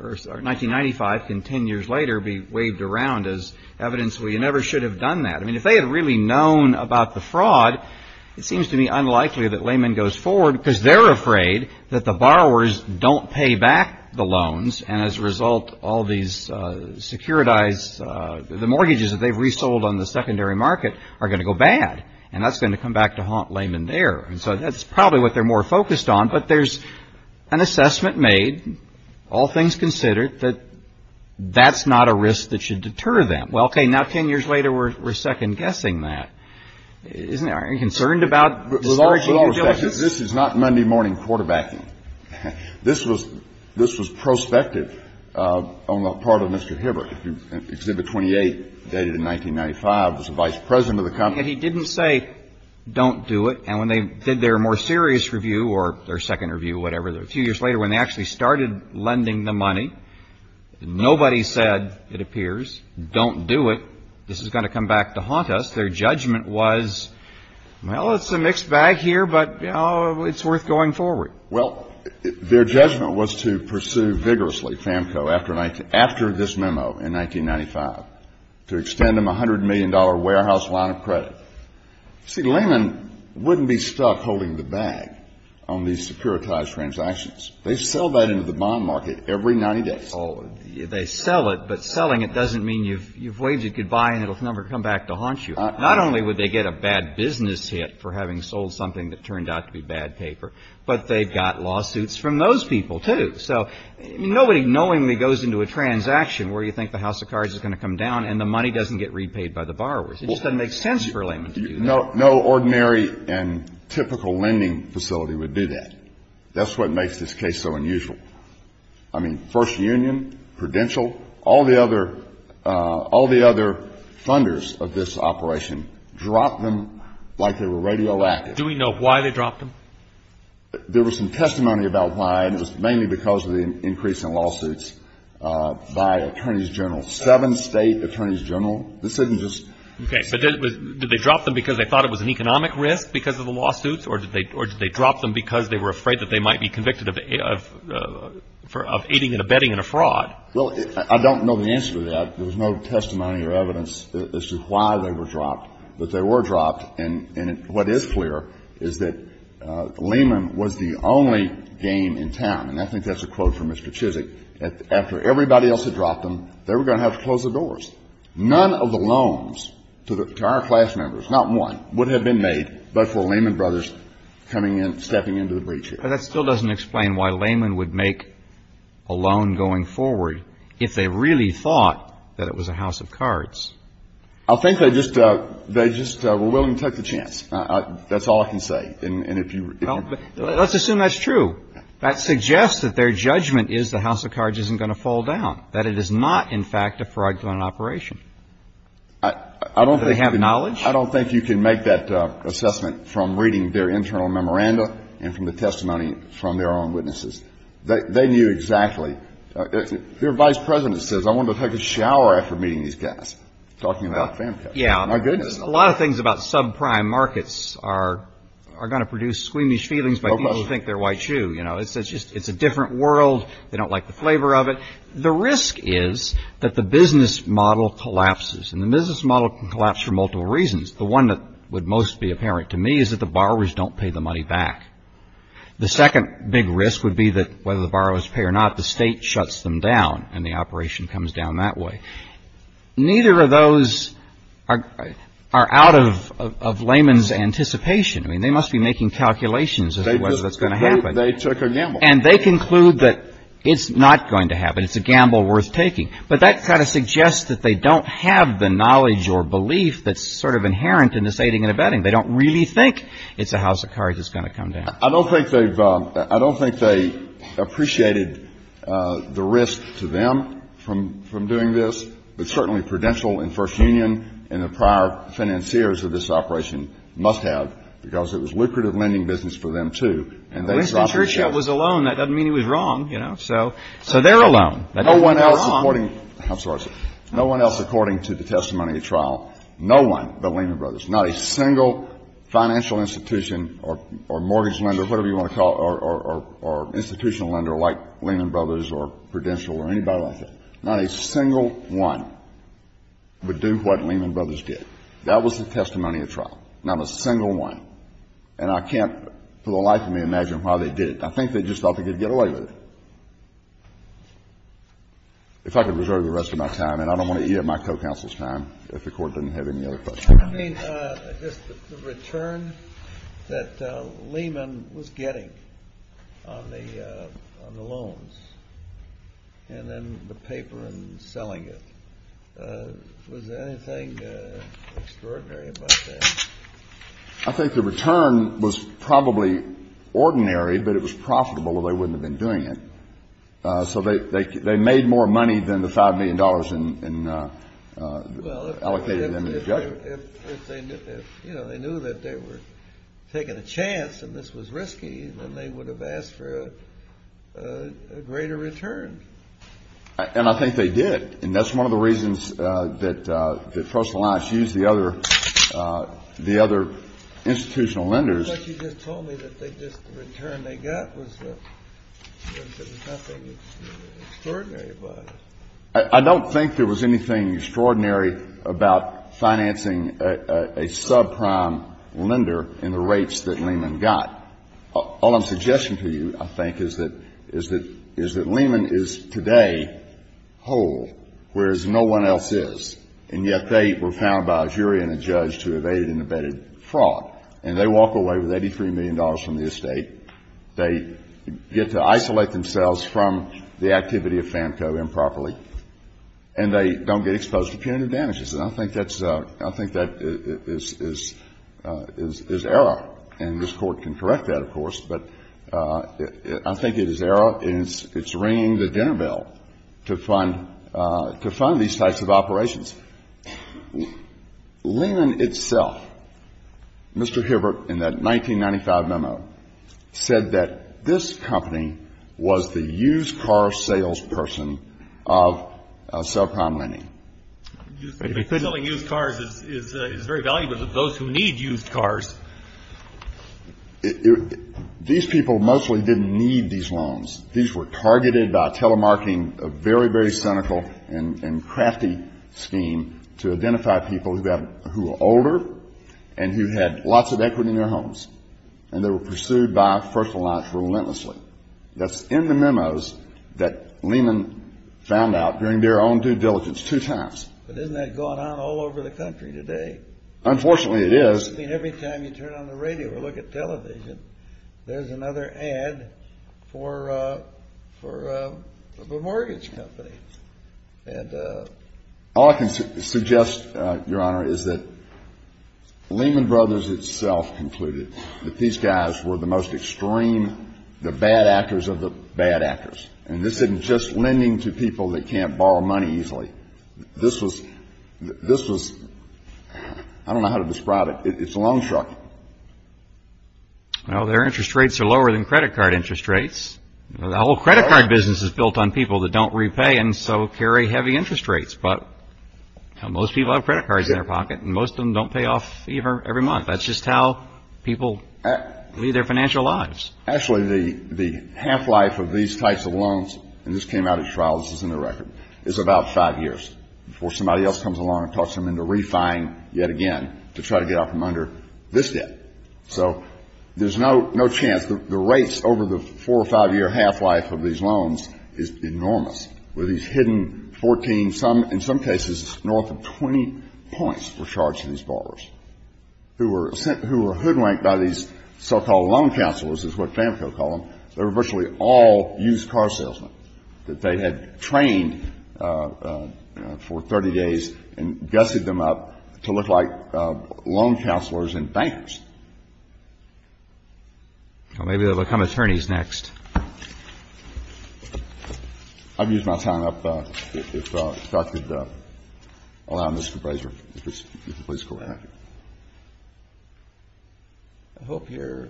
or 1995 can 10 years later be waved around as evidence where you never should have done that. If they had really known about the fraud, it seems to be unlikely that Lehman goes forward because they're afraid that the borrowers don't pay back the loans, and as a result all these securitized, the mortgages that they've resold on the secondary market are going to go bad, and that's going to come back to haunt Lehman there. And so that's probably what they're more focused on, but there's an assessment made, all things considered, that that's not a risk that should deter them. Well, okay, now 10 years later we're second-guessing that. Aren't you concerned about the largeness of this? This is not Monday morning quarterbacking. This was prospective on the part of Mr. Hibbert. Exhibit 28, dated in 1995, was the vice president of the company. He didn't say don't do it, and when they did their more serious review, or their second review, whatever, a few years later when they actually started lending the money, nobody said, it appears, don't do it. This is going to come back to haunt us. Their judgment was, well, it's a mixed bag here, but, you know, it's worth going forward. Well, their judgment was to pursue vigorously FAMCO after this memo in 1995, to extend them a $100 million warehouse line of credit. See, Lehman wouldn't be stuck holding the bag on these securitized transactions. They sell that into the bond market every 90 days. Oh, they sell it, but selling it doesn't mean you've waged it goodbye and it'll never come back to haunt you. Not only would they get a bad business hit for having sold something that turned out to be bad paper, but they've got lawsuits from those people, too. Nobody knowingly goes into a transaction where you think the house of cards is going to come down and the money doesn't get repaid by the borrowers. It just doesn't make sense for Lehman to do that. No ordinary and typical lending facility would do that. That's what makes this case so unusual. I mean, First Union, Prudential, all the other funders of this operation dropped them like they were radioactive. Do we know why they dropped them? There was some testimony about why, and it was mainly because of the increase in lawsuits by attorneys general. Seven state attorneys general. Okay, but did they drop them because they thought it was an economic risk because of the lawsuits, or did they drop them because they were afraid that they might be convicted of aiding and abetting in a fraud? Well, I don't know the answer to that. There was no testimony or evidence as to why they were dropped. But they were dropped, and what is clear is that Lehman was the only game in town, and I think that's a quote from Mr. Chizik, that after everybody else had dropped them, they were going to have to close the doors. None of the loans to our class members, not one, would have been made but for Lehman Brothers stepping into the breach here. But that still doesn't explain why Lehman would make a loan going forward if they really thought that it was a house of cards. I think they just were willing to take the chance. That's all I can say. Let's assume that's true. That suggests that their judgment is the house of cards isn't going to fall down, that it is not, in fact, a fraudulent operation. Do they have knowledge? I don't think you can make that assessment from reading their internal memoranda and from the testimony from their own witnesses. They knew exactly. Their vice president says, I want to take a shower after meeting these guys. Yeah, a lot of things about subprime markets are going to produce squeamish feelings by people who think they're white shoe. It's a different world. They don't like the flavor of it. The risk is that the business model collapses, and the business model can collapse for multiple reasons. The one that would most be apparent to me is that the borrowers don't pay the money back. The second big risk would be that whether the borrowers pay or not, the state shuts them down, and the operation comes down that way. Neither of those are out of layman's anticipation. I mean, they must be making calculations as to whether that's going to happen. They took a gamble. And they conclude that it's not going to happen. It's a gamble worth taking. But that kind of suggests that they don't have the knowledge or belief that's sort of inherent in this aiding and abetting. They don't really think it's a house of cards that's going to come down. I don't think they appreciated the risk to them from doing this. But certainly Prudential and First Union and the prior financiers of this operation must have, because it was lucrative lending business for them, too. And the reason Churchill was alone, that doesn't mean he was wrong. So they're alone. No one else, according to the testimony of trial, no one but Lehman Brothers, not a single financial institution or mortgage lender, whatever you want to call it, or institutional lender like Lehman Brothers or Prudential or anybody like that, not a single one would do what Lehman Brothers did. That was the testimony of trial. Not a single one. And I can't for the life of me imagine why they did it. I think they just thought they could get away with it. If I could reserve the rest of my time, and I don't want to eat up my co-counsel's time if the Court doesn't have any other questions. The return that Lehman was getting on the loans and then the paper in selling it, was there anything extraordinary about that? I think the return was probably ordinary, but it was profitable or they wouldn't have been doing it. So they made more money than the $5 million allocated in the judgment. If they knew that they were taking a chance and this was risky, then they would have asked for a greater return. And I think they did. And that's one of the reasons that Trust Alliance used the other institutional lenders. I thought you just told me that the return they got was nothing extraordinary about it. I don't think there was anything extraordinary about financing a subprime lender in the rates that Lehman got. All I'm suggesting to you, I think, is that Lehman is today whole, whereas no one else is. And yet they were found by a jury and a judge to have aided and abetted fraud. And they walk away with $83 million from the estate. They get to isolate themselves from the activity of FANCO improperly. And they don't get exposed to punitive damages. And I think that is error. And this Court can correct that, of course, but I think it is error and it's ringing the dinner bell to fund these types of operations. Lehman itself, Mr. Hilbert, in that 1995 memo, said that this company was the used car salesperson of subprime lending. Used cars is very valuable to those who need used cars. These people mostly didn't need these loans. These were targeted by telemarketing, a very, very cynical and crafty scheme to identify people who were older and who had lots of equity in their homes. And they were pursued by First Alliance relentlessly. That's in the memos that Lehman found out during their own due diligence two times. But isn't that going on all over the country today? Unfortunately, it is. It's interesting every time you turn on the radio or look at television, there's another ad for a mortgage company. All I can suggest, Your Honor, is that Lehman Brothers itself concluded that these guys were the most extreme, the bad actors of the bad actors. And this isn't just lending to people that can't borrow money easily. This was, I don't know how to describe it. It's a loan truck. Their interest rates are lower than credit card interest rates. The whole credit card business is built on people that don't repay and so carry heavy interest rates. But most people have credit cards in their pocket and most of them don't pay off every month. That's just how people lead their financial lives. Actually, the half-life of these types of loans, and this came out of his trial, this is in the record, is about five years. Before somebody else comes along and talks him into refining yet again to try to get off him under this debt. So there's no chance. The rates over the four or five-year half-life of these loans is enormous. With these hidden 14, in some cases north of 20 points for charging these borrowers. Who were hoodwinked by these so-called loan counselors is what Fanco called them. They were virtually all used car salesmen. That they had trained for 30 days and dusted them up to look like loan counselors and bankers. Well, maybe they'll become attorneys next. I'd use my time up if I could allow Mr. Brazier, if you could please go ahead. I hope your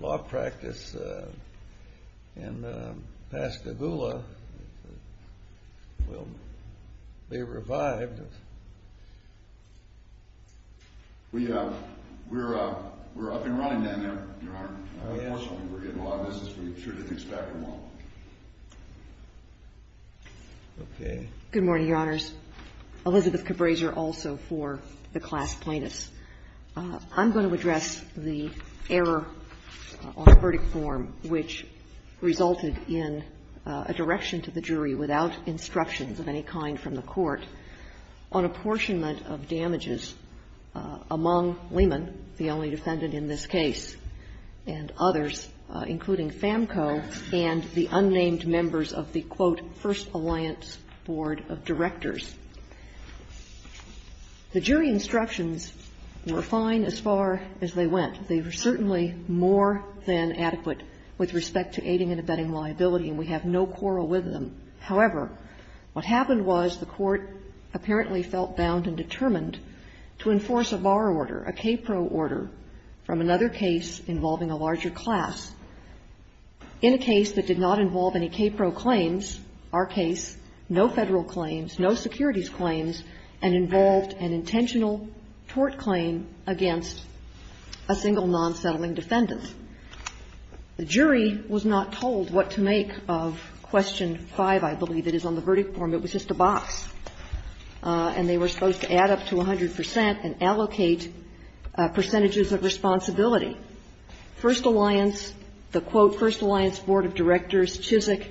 law practice in Pascagoula will be revived. We're up and running down there, Your Honor. We're in law business. We sure didn't expect them all. Good morning, Your Honors. Elizabeth Cabreza also for the class plaintiffs. I'm going to address the error on the verdict form, which resulted in a direction to the jury without instructions of any kind from the court. And I'm going to focus on apportionment of damages among Lehman, the only defendant in this case. And others, including Fanco and the unnamed members of the quote first alliance board of directors. The jury instructions were fine as far as they went. They were certainly more than adequate with respect to aiding and abetting liability. And we have no quarrel with them. However, what happened was the court apparently felt bound and determined to enforce a bar order, a KPRO order, from another case involving a larger class. In a case that did not involve any KPRO claims, our case, no federal claims, no securities claims, and involved an intentional tort claim against a single non-settling defendant. The jury was not told what to make of question five, I believe it is on the verdict form. It was just a box. And they were supposed to add up to 100% and allocate percentages of responsibility. First alliance, the quote first alliance board of directors, Chizik,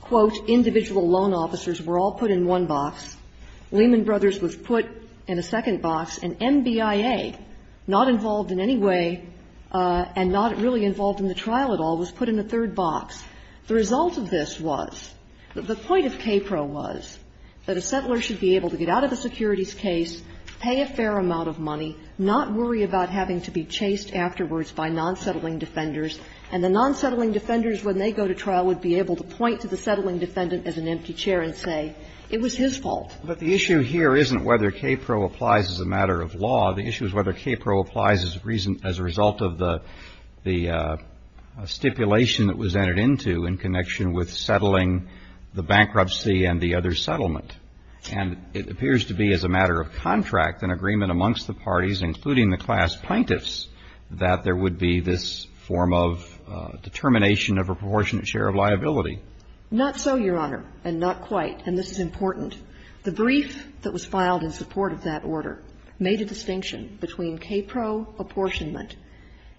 quote individual loan officers were all put in one box. Lehman Brothers were put in a second box. And NBIA, not involved in any way and not really involved in the trial at all, was put in the third box. The result of this was, the point of KPRO was that a settler should be able to get out of a securities case, pay a fair amount of money, not worry about having to be chased afterwards by non-settling defenders. And the non-settling defenders, when they go to trial, would be able to point to the settling defendant as an empty chair and say, it was his fault. But the issue here isn't whether KPRO applies as a matter of law. The issue is whether KPRO applies as a result of the stipulation that was entered into in connection with settling the bankruptcy and the other settlement. And it appears to be as a matter of contract and agreement amongst the parties, including the class plaintiffs, that there would be this form of determination of a proportionate share of liability. Not so, Your Honor. And not quite. And this is important. The brief that was filed in support of that order made a distinction between KPRO apportionment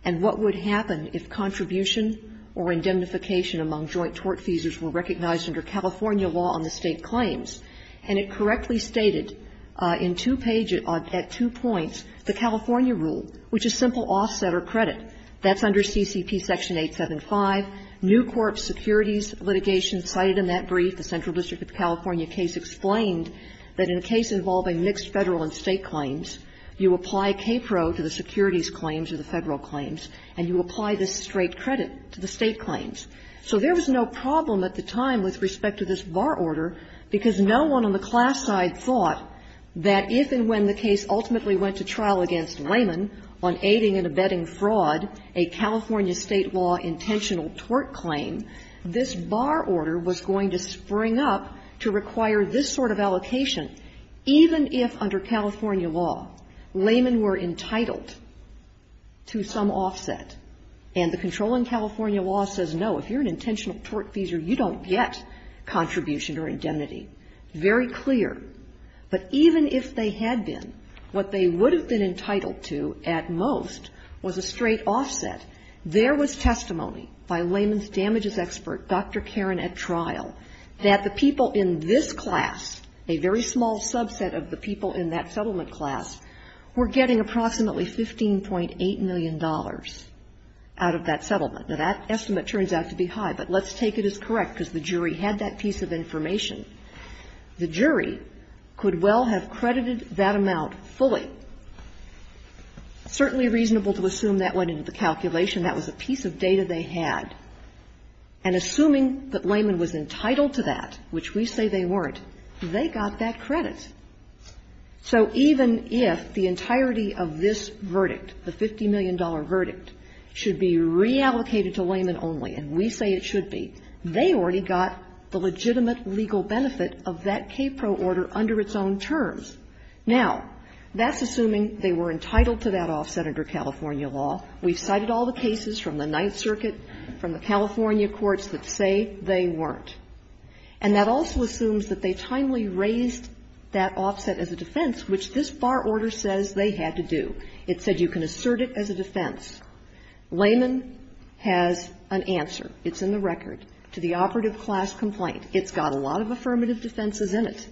and what would happen if contribution or indemnification among joint tort feasors were recognized under California law on the state claims. And it correctly stated in two pages, at two points, the California rule, which is simple offset or credit. That's under CCT Section 875. New court securities litigation cited in that brief, the Central District of California case, explained that in a case involving mixed federal and state claims, you apply KPRO to the securities claims or the federal claims. And you apply this straight credit to the state claims. So there was no problem at the time with respect to this bar order because no one on the class side thought that if and when the case ultimately went to trial against Layman on aiding and abetting fraud, a California state law intentional tort claim, this bar order was going to spring up to require this sort of allocation, even if under California law, Layman were entitled to some offset. And the controlling California law says, no, if you're an intentional tort feasor, you don't get contribution or indemnity. Very clear. But even if they had been, what they would have been entitled to at most was a straight offset. There was testimony by Layman's damages expert, Dr. Karen, at trial that the people in this class, a very small subset of the people in that settlement class, were getting approximately $15.8 million out of that settlement. Now, that estimate turns out to be high, but let's take it as correct because the jury had that piece of information. The jury could well have credited that amount fully. Certainly reasonable to assume that went into the calculation. That was a piece of data they had. And assuming that Layman was entitled to that, which we say they weren't, they got that credit. So even if the entirety of this verdict, the $50 million verdict, should be reallocated to Layman only, and we say it should be, they already got the legitimate legal benefit of that KPRO order under its own terms. Now, that's assuming they were entitled to that offset under California law. We cited all the cases from the Ninth Circuit, from the California courts that say they weren't. And that also assumes that they timely raised that offset as a defense, which this bar order says they had to do. It said you can assert it as a defense. Layman has an answer. It's in the record to the operative class complaint. It's got a lot of affirmative defenses in it.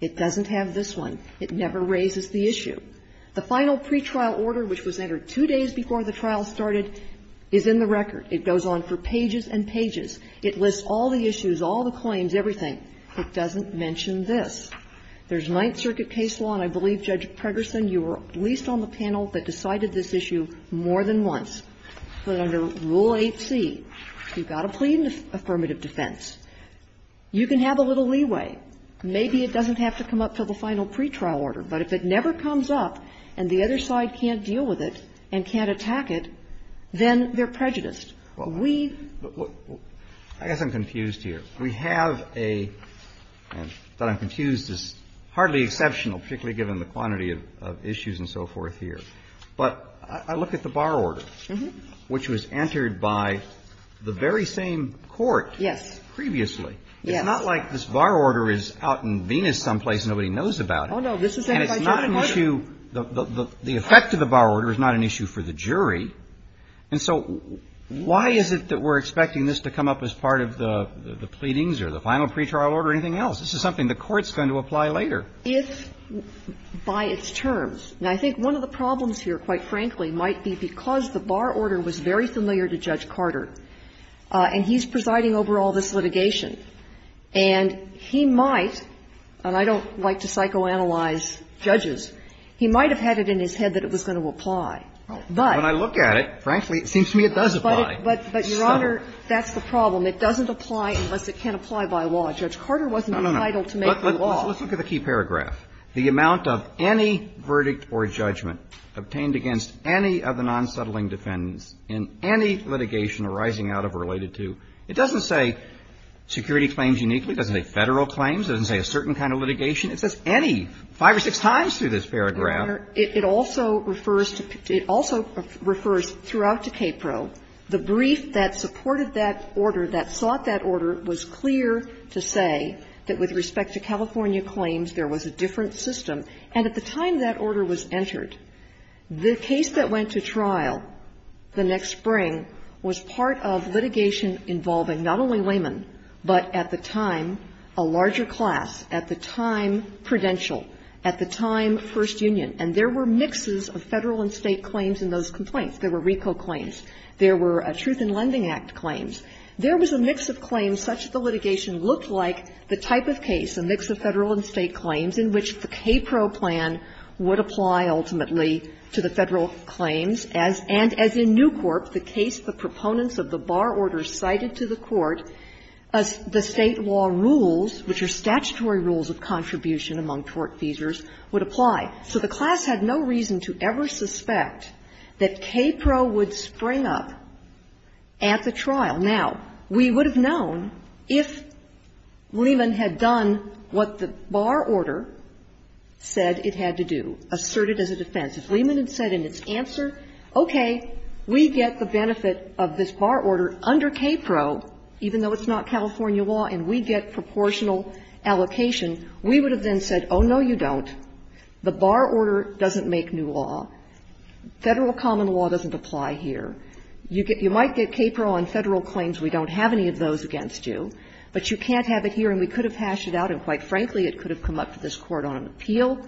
It doesn't have this one. It never raises the issue. The final pretrial order, which was entered two days before the trial started, is in the record. It goes on for pages and pages. It lists all the issues, all the claims, everything. It doesn't mention this. There's Ninth Circuit case law, and I believe, Judge Pregerson, you were at least on the panel that decided this issue more than once. But under Rule 8c, you've got to plead affirmative defense. You can have a little leeway. Maybe it doesn't have to come up until the final pretrial order. But if it never comes up and the other side can't deal with it and can't attack it, then they're prejudiced. Well, I guess I'm confused here. We have a — I'm confused. It's hardly exceptional, particularly given the quantity of issues and so forth here. But I look at the bar order, which was entered by the very same court previously. It's not like this bar order is out in Venus someplace and nobody knows about it. And it's not an issue — the effect of the bar order is not an issue for the jury. And so why is it that we're expecting this to come up as part of the pleadings or the final pretrial order or anything else? This is something the court's going to apply later. If by its terms. Now, I think one of the problems here, quite frankly, might be because the bar order was very familiar to Judge Carter. And he's presiding over all this litigation. And he might — and I don't like to psychoanalyze judges — he might have had it in his head that it was going to apply. But — When I look at it, frankly, it seems to me it does apply. But, Your Honor, that's the problem. It doesn't apply unless it can apply by law. Judge Carter wasn't entitled to make the law. No, no, no. Let's look at the key paragraph. The amount of any verdict or judgment obtained against any of the non-settling defendants in any litigation arising out of or related to — it doesn't say security claims uniquely. It doesn't say Federal claims. It doesn't say a certain kind of litigation. It says any. Five or six times through this paragraph. Your Honor, it also refers to — it also refers throughout to KPRO. The brief that supported that order, that sought that order, was clear to say that with respect to California claims, there was a different system. And at the time that order was entered, the case that went to trial the next spring was part of litigation involving not only laymen, but at the time, a larger class. At the time, Prudential. At the time, First Union. And there were mixes of Federal and State claims in those complaints. There were RICO claims. There were Truth in Lending Act claims. There was a mix of claims. Such that the litigation looked like the type of case, a mix of Federal and State claims, in which the KPRO plan would apply ultimately to the Federal claims. And as in Newcorp, the case the proponents of the bar order cited to the court, the State law rules, which are statutory rules of contribution among tortfeasors, would apply. So the class had no reason to ever suspect that KPRO would spring up at the trial. Now, we would have known if Lehman had done what the bar order said it had to do, asserted as a defense. If Lehman had said in its answer, okay, we get the benefit of this bar order under KPRO, even though it's not California law, and we get proportional allocation, we would have then said, oh, no, you don't. The bar order doesn't make new law. Federal common law doesn't apply here. You might get KPRO on Federal claims. We don't have any of those against you. But you can't have it here. And we could have hashed it out. And quite frankly, it could have come up to this Court on an appeal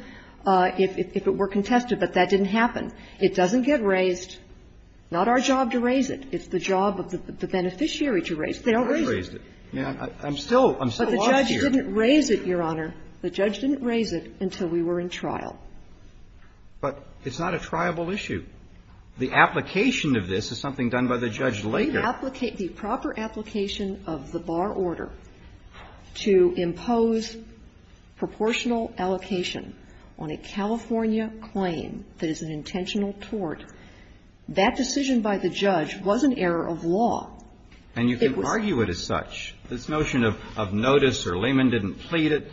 if it were contested. But that didn't happen. It doesn't get raised. Not our job to raise it. It's the job of the beneficiary to raise it. They don't raise it. But the judge didn't raise it, Your Honor. The judge didn't raise it until we were in trial. But it's not a triable issue. The application of this is something done by the judge later. The proper application of the bar order to impose proportional allocation on a California claim that is an intentional tort, that decision by the judge was an error of law. And you can argue it as such. This notion of notice or layman didn't plead it,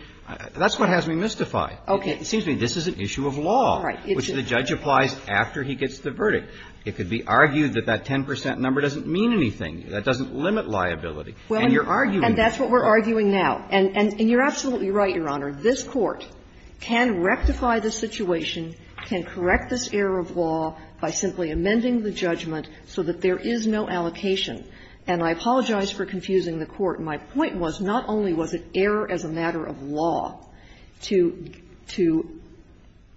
that's what has me mystified. Okay. It seems to me this is an issue of law. Right. Which the judge applies after he gets the verdict. It could be argued that that 10 percent number doesn't mean anything. That doesn't limit liability. And you're arguing it. And that's what we're arguing now. And you're absolutely right, Your Honor. This Court can rectify the situation, can correct this error of law by simply amending the judgment so that there is no allocation. And I apologize for confusing the Court. My point was not only was it error as a matter of law to –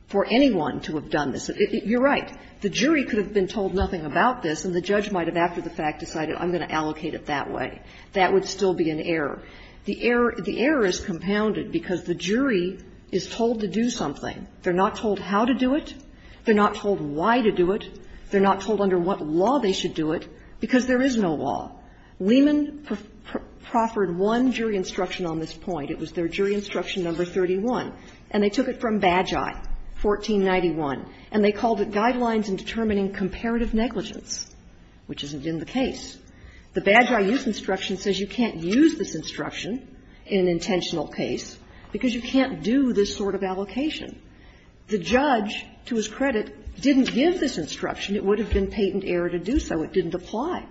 for anyone to have done this. You're right. The jury could have been told nothing about this and the judge might have after the fact decided I'm going to allocate it that way. That would still be an error. The error is compounded because the jury is told to do something. They're not told how to do it. They're not told why to do it. They're not told under what law they should do it because there is no law. Lehman proffered one jury instruction on this point. It was their jury instruction number 31. And they took it from Bagi, 1491. And they called it Guidelines in Determining Comparative Negligence, which isn't in the case. The Bagi use instruction says you can't use this instruction in an intentional case because you can't do this sort of allocation. The judge, to his credit, didn't give this instruction. It would have been patent error to do so. It didn't apply.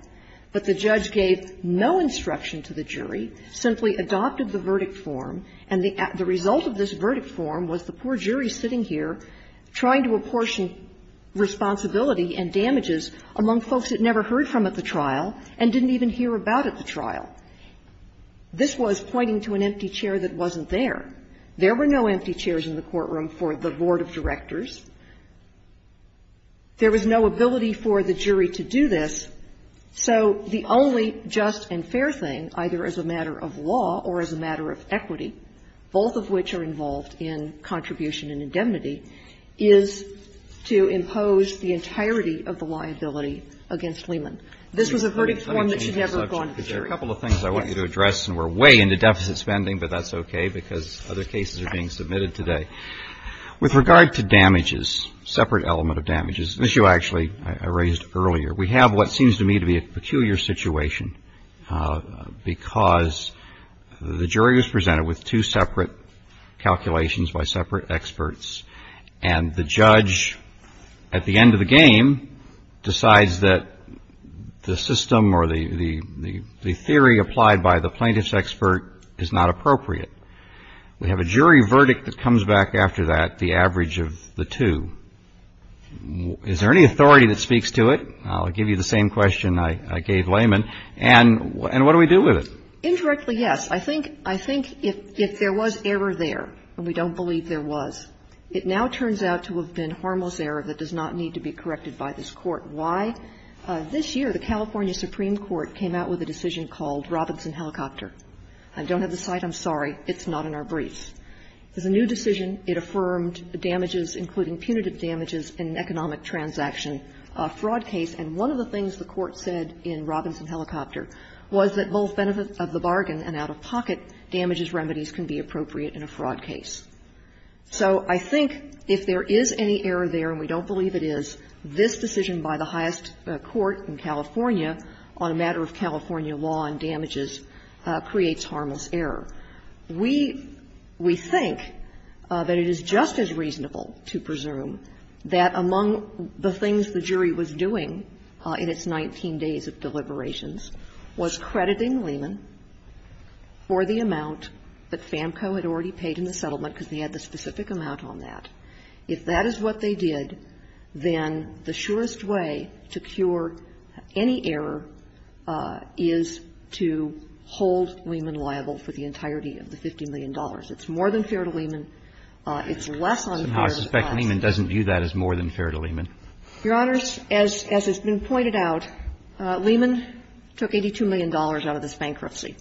But the judge gave no instruction to the jury, simply adopted the verdict form. And the result of this verdict form was the poor jury sitting here trying to apportion responsibility and damages among folks it never heard from at the trial and didn't even hear about at the trial. This was pointing to an empty chair that wasn't there. There were no empty chairs in the courtroom for the board of directors. There was no ability for the jury to do this. So the only just and fair thing, either as a matter of law or as a matter of equity, both of which are involved in contribution and indemnity, is to impose the entirety of the liability against Lehman. This was a verdict form that should never have gone to the jury. There are a couple of things I want you to address, and we're way into deficit spending, but that's okay, because other cases are being submitted today. With regard to damages, separate element of damages, which you actually arranged earlier, we have what seems to me to be a peculiar situation, because the jury is presented with two separate calculations by separate experts, and the judge at the end of the game decides that the system or the theory applied by the plaintiff's expert is not appropriate. We have a jury verdict that comes back after that, the average of the two. Is there any authority that speaks to it? I'll give you the same question I gave Lehman. And what do we do with it? Indirectly, yes. I think if there was error there, and we don't believe there was, it now turns out to have been harmless error that does not need to be corrected by this court. Why? This year, the California Supreme Court came out with a decision called Robinson Helicopter. I don't have the site. I'm sorry. It's not in our briefs. It's a new decision. It affirmed damages, including punitive damages in an economic transaction fraud case, and one of the things the court said in Robinson Helicopter was that both benefits of the bargain and out-of-pocket damages remedies can be appropriate in a fraud case. So I think if there is any error there, and we don't believe it is, this decision by the highest court in California on a matter of California law and damages creates harmless error. We think that it is just as reasonable to presume that among the things the jury was doing in its 19 days of deliberations was crediting Lehman for the amount that FAMCO had already paid in the settlement because we had the specific amount on that. If that is what they did, then the surest way to cure any error is to hold Lehman liable for the entirety of the $50 million. It's more than fair to Lehman. It's less unfair to FAMCO. I suspect Lehman doesn't view that as more than fair to Lehman. Your Honors, as has been pointed out, Lehman took $82 million out of his bankruptcy.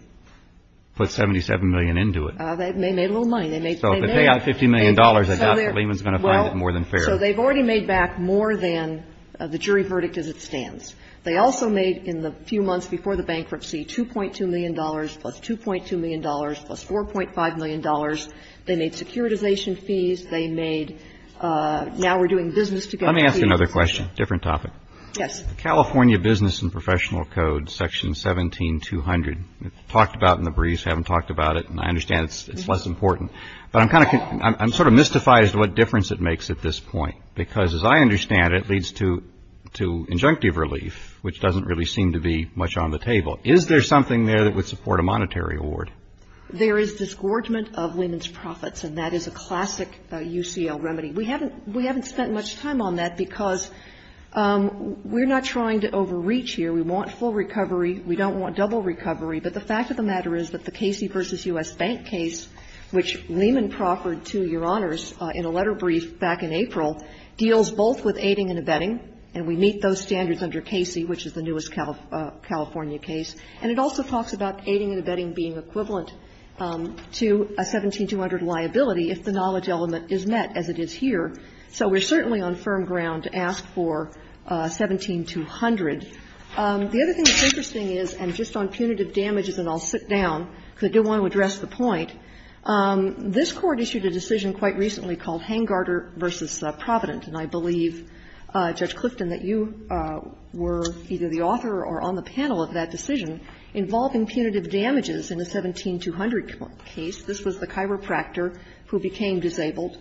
Put $77 million into it. They made a little money. So if they pay out $50 million, I doubt that Lehman is going to find it more than fair. So they've already made back more than the jury verdict as it stands. They also made in the few months before the bankruptcy $2.2 million plus $2.2 million plus $4.5 million. They made securitization fees. They made now we're doing business together fees. Let me ask you another question, different topic. Yes. California Business and Professional Code, Section 17200. It's talked about in the briefs, haven't talked about it, and I understand it's less important. But I'm sort of mystified as to what difference it makes at this point. Because as I understand it, it leads to injunctive relief, which doesn't really seem to be much on the table. Is there something there that would support a monetary award? There is disgorgement of women's profits, and that is a classic UCL remedy. We haven't spent much time on that because we're not trying to overreach here. We want full recovery. We don't want double recovery. But the fact of the matter is that the Casey v. U.S. Bank case, which Raymond proffered to your honors in a letter brief back in April, deals both with aiding and abetting, and we meet those standards under Casey, which is the newest California case. And it also talks about aiding and abetting being equivalent to a 17200 liability if the knowledge element is met as it is here. So we're certainly on firm ground to ask for 17200. The other thing that's interesting is I'm just on punitive damages, and I'll sit down because I do want to address the point. This court issued a decision quite recently called Hangarter v. Providence, and I believe, Judge Clifton, that you were either the author or on the panel of that decision involving punitive damages in the 17200 case. This was the chiropractor who became disabled.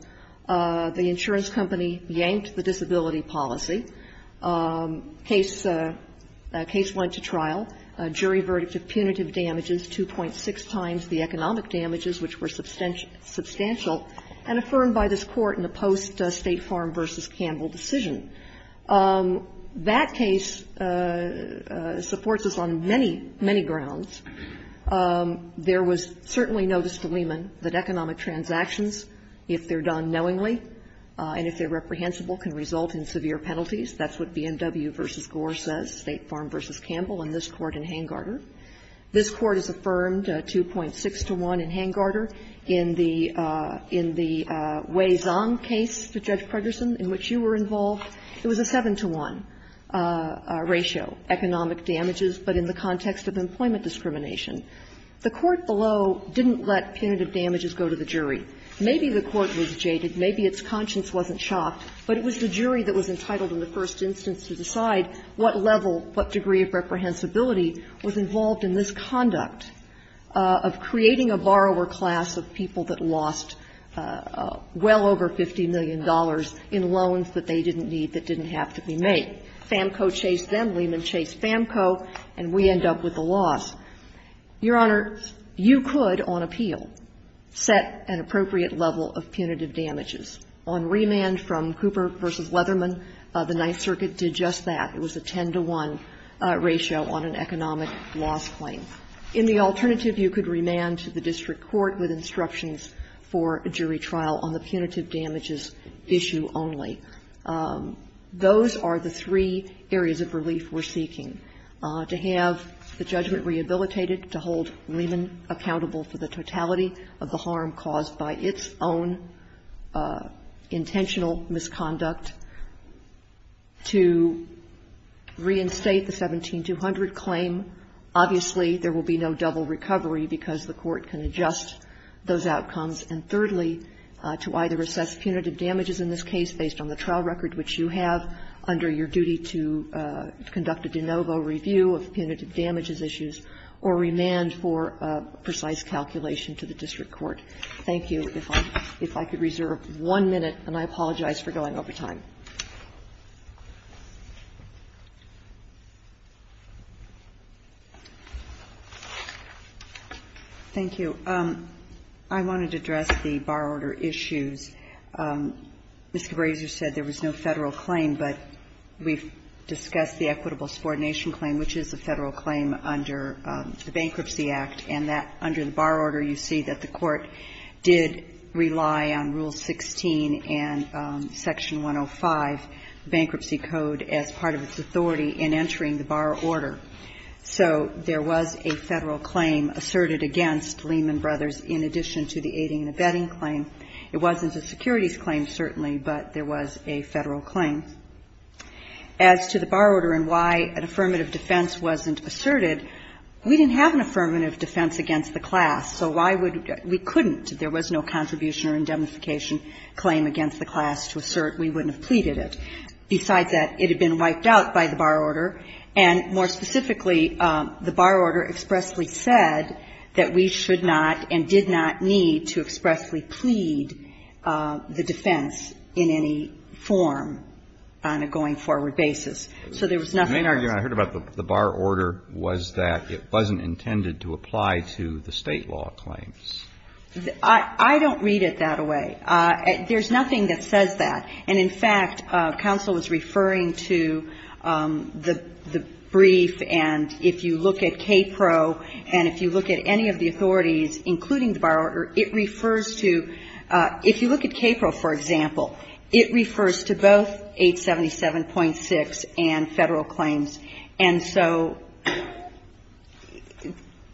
The insurance company yanked the disability policy. The case went to trial. A jury verdict of punitive damages, 2.6 times the economic damages, which were substantial, and affirmed by this court in the post-State Farm v. Campbell decision. That case supports us on many, many grounds. There was certainly notice to Lehman that economic transactions, if they're done knowingly and if they're reprehensible, can result in severe penalties. That's what BMW v. Gore says, State Farm v. Campbell, in this court in Hangarter. This court has affirmed 2.6 to 1 in Hangarter. In the Wei Zong case, Judge Predersen, in which you were involved, it was a 7 to 1 ratio, economic damages, but in the context of employment discrimination. The court below didn't let punitive damages go to the jury. Maybe the court was jaded, maybe its conscience wasn't shocked, but it was the jury that was entitled in the first instance to decide what level, what degree of reprehensibility was involved in this conduct of creating a borrower class of people that lost well over $50 million in loans that they didn't need, that didn't have to be made. FAMCO chased them, Lehman chased FAMCO, and we end up with the loss. Your Honor, you could, on appeal, set an appropriate level of punitive damages. On remand from Cooper v. Leatherman, the Ninth Circuit did just that. It was a 10 to 1 ratio on an economic loss claim. In the alternative, you could remand to the district court with instructions for a jury trial on the punitive damages issue only. Those are the three areas of relief we're seeking. To have the judgment rehabilitated, to hold Lehman accountable for the totality of the harm caused by its own intentional misconduct, to reinstate the 17200 claim. Obviously, there will be no double recovery because the court can adjust those outcomes. And thirdly, to either assess punitive damages in this case based on the trial record, which you have under your duty to conduct a de novo review of punitive damages issues, or remand for precise calculation to the district court. Thank you. If I could reserve one minute, and I apologize for going over time. Thank you. I wanted to address the bar order issue. Mr. Brazier said there was no federal claim, but we've discussed the equitable subordination claim, which is a federal claim under the Bankruptcy Act. And under the bar order, you see that the court did rely on Rule 16 and Section 105 bankruptcy code as part of its authority in entering the bar order. So there was a federal claim asserted against Lehman Brothers in addition to the aiding and abetting claim. It wasn't a securities claim, certainly, but there was a federal claim. As to the bar order and why an affirmative defense wasn't asserted, we didn't have an affirmative defense against the class. So why would we couldn't? There was no contribution or indemnification claim against the class to assert. We wouldn't have pleaded it. Besides that, it had been wiped out by the bar order. And more specifically, the bar order expressly said that we should not and did not need to expressly plead the defense in any form on a going-forward basis. So there was nothing. I heard about the bar order was that it wasn't intended to apply to the state law claims. I don't read it that way. There's nothing that says that. And in fact, counsel was referring to the brief and if you look at KPRO and if you look at any of the authorities, including the bar order, it refers to If you look at KPRO, for example, it refers to both 877.6 and federal claims. And so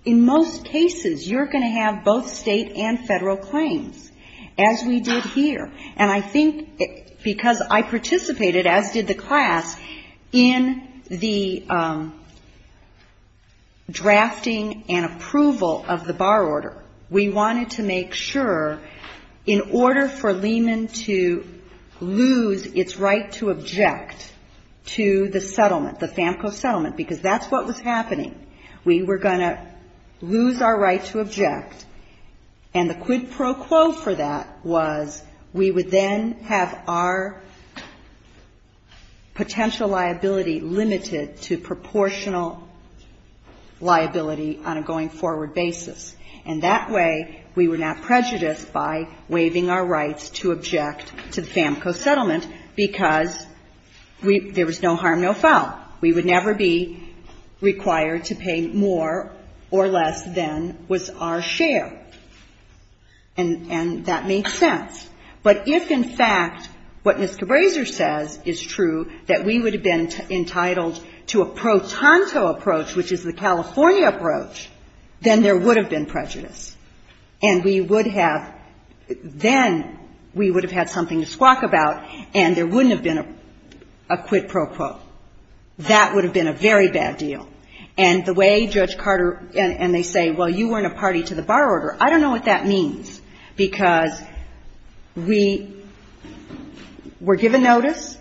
in most cases, you're going to have both state and federal claims as we did here. And I think because I participated, as did the class, in the drafting and approval of the bar order. We wanted to make sure in order for Lehman to lose its right to object to the settlement, the FAMCO settlement, because that's what was happening. We were going to lose our right to object. And the quid pro quo for that was we would then have our potential liability limited to proportional liability on a going-forward basis. And that way, we were not prejudiced by waiving our rights to object to the FAMCO settlement because there was no harm, no foul. We would never be required to pay more or less than was our share. And that makes sense. But if, in fact, what Mr. Brazier says is true, that we would have been entitled to a pro tanto approach, which is the California approach, then there would have been prejudice. And we would have, then we would have had something to squawk about, and there wouldn't have been a quid pro quo. That would have been a very bad deal. And the way Judge Carter, and they say, well, you weren't a party to the bar order, I don't know what that means. Because we were given notice.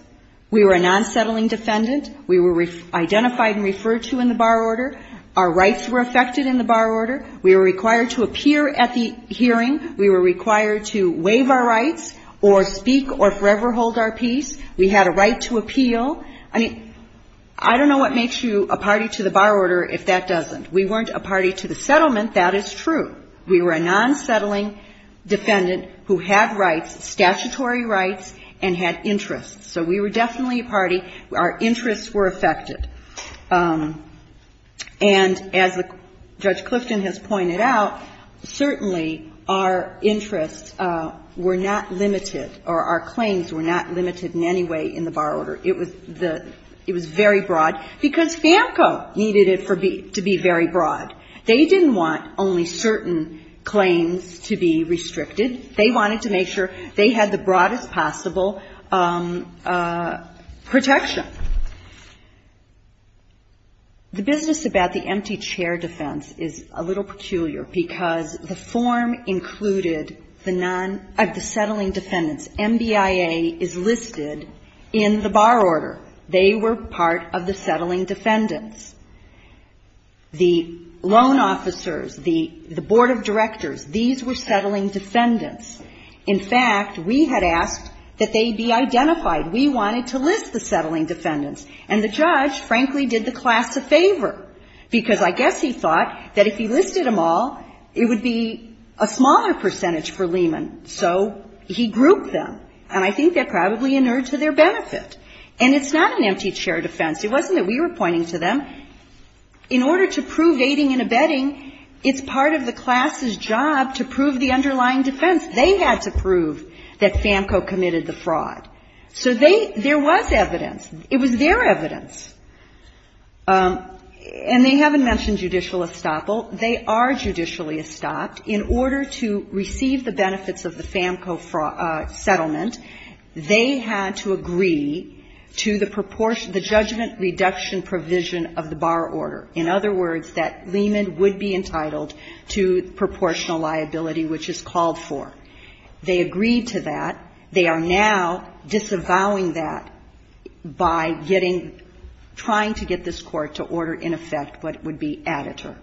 We were a non-settling defendant. We were identified and referred to in the bar order. Our rights were affected in the bar order. We were required to appear at the hearing. We were required to waive our rights or speak or forever hold our peace. We had a right to appeal. I mean, I don't know what makes you a party to the bar order if that doesn't. We weren't a party to the settlement. That is true. We were a non-settling defendant who had rights, statutory rights, and had interests. So we were definitely a party. Our interests were affected. And as Judge Clifton has pointed out, certainly our interests were not limited or our claims were not limited in any way in the bar order. It was very broad because FAMCO needed it to be very broad. They didn't want only certain claims to be restricted. They wanted to make sure they had the broadest possible protection. The business about the empty chair defense is a little peculiar because the form included the settling defendants. MDIA is listed in the bar order. They were part of the settling defendants. The loan officers, the board of directors, these were settling defendants. In fact, we had asked that they be identified. We wanted to list the settling defendants. And the judge, frankly, did the class a favor because I guess he thought that if he listed them all, it would be a smaller percentage for Lehman. So he grouped them. And I think that probably inured to their benefit. And it's not an empty chair defense. It wasn't that we were pointing to them. In order to prove aiding and abetting, it's part of the class's job to prove the underlying defense. They had to prove that FAMCO committed the fraud. So there was evidence. It was their evidence. And they haven't mentioned judicial estoppel. They are judicially estopped. In order to receive the benefits of the FAMCO settlement, they had to agree to the judgment reduction provision of the bar order. In other words, that Lehman would be entitled to proportional liability, which is called for. They agreed to that. They are now disavowing that by trying to get this court to order, in effect, what would be additive.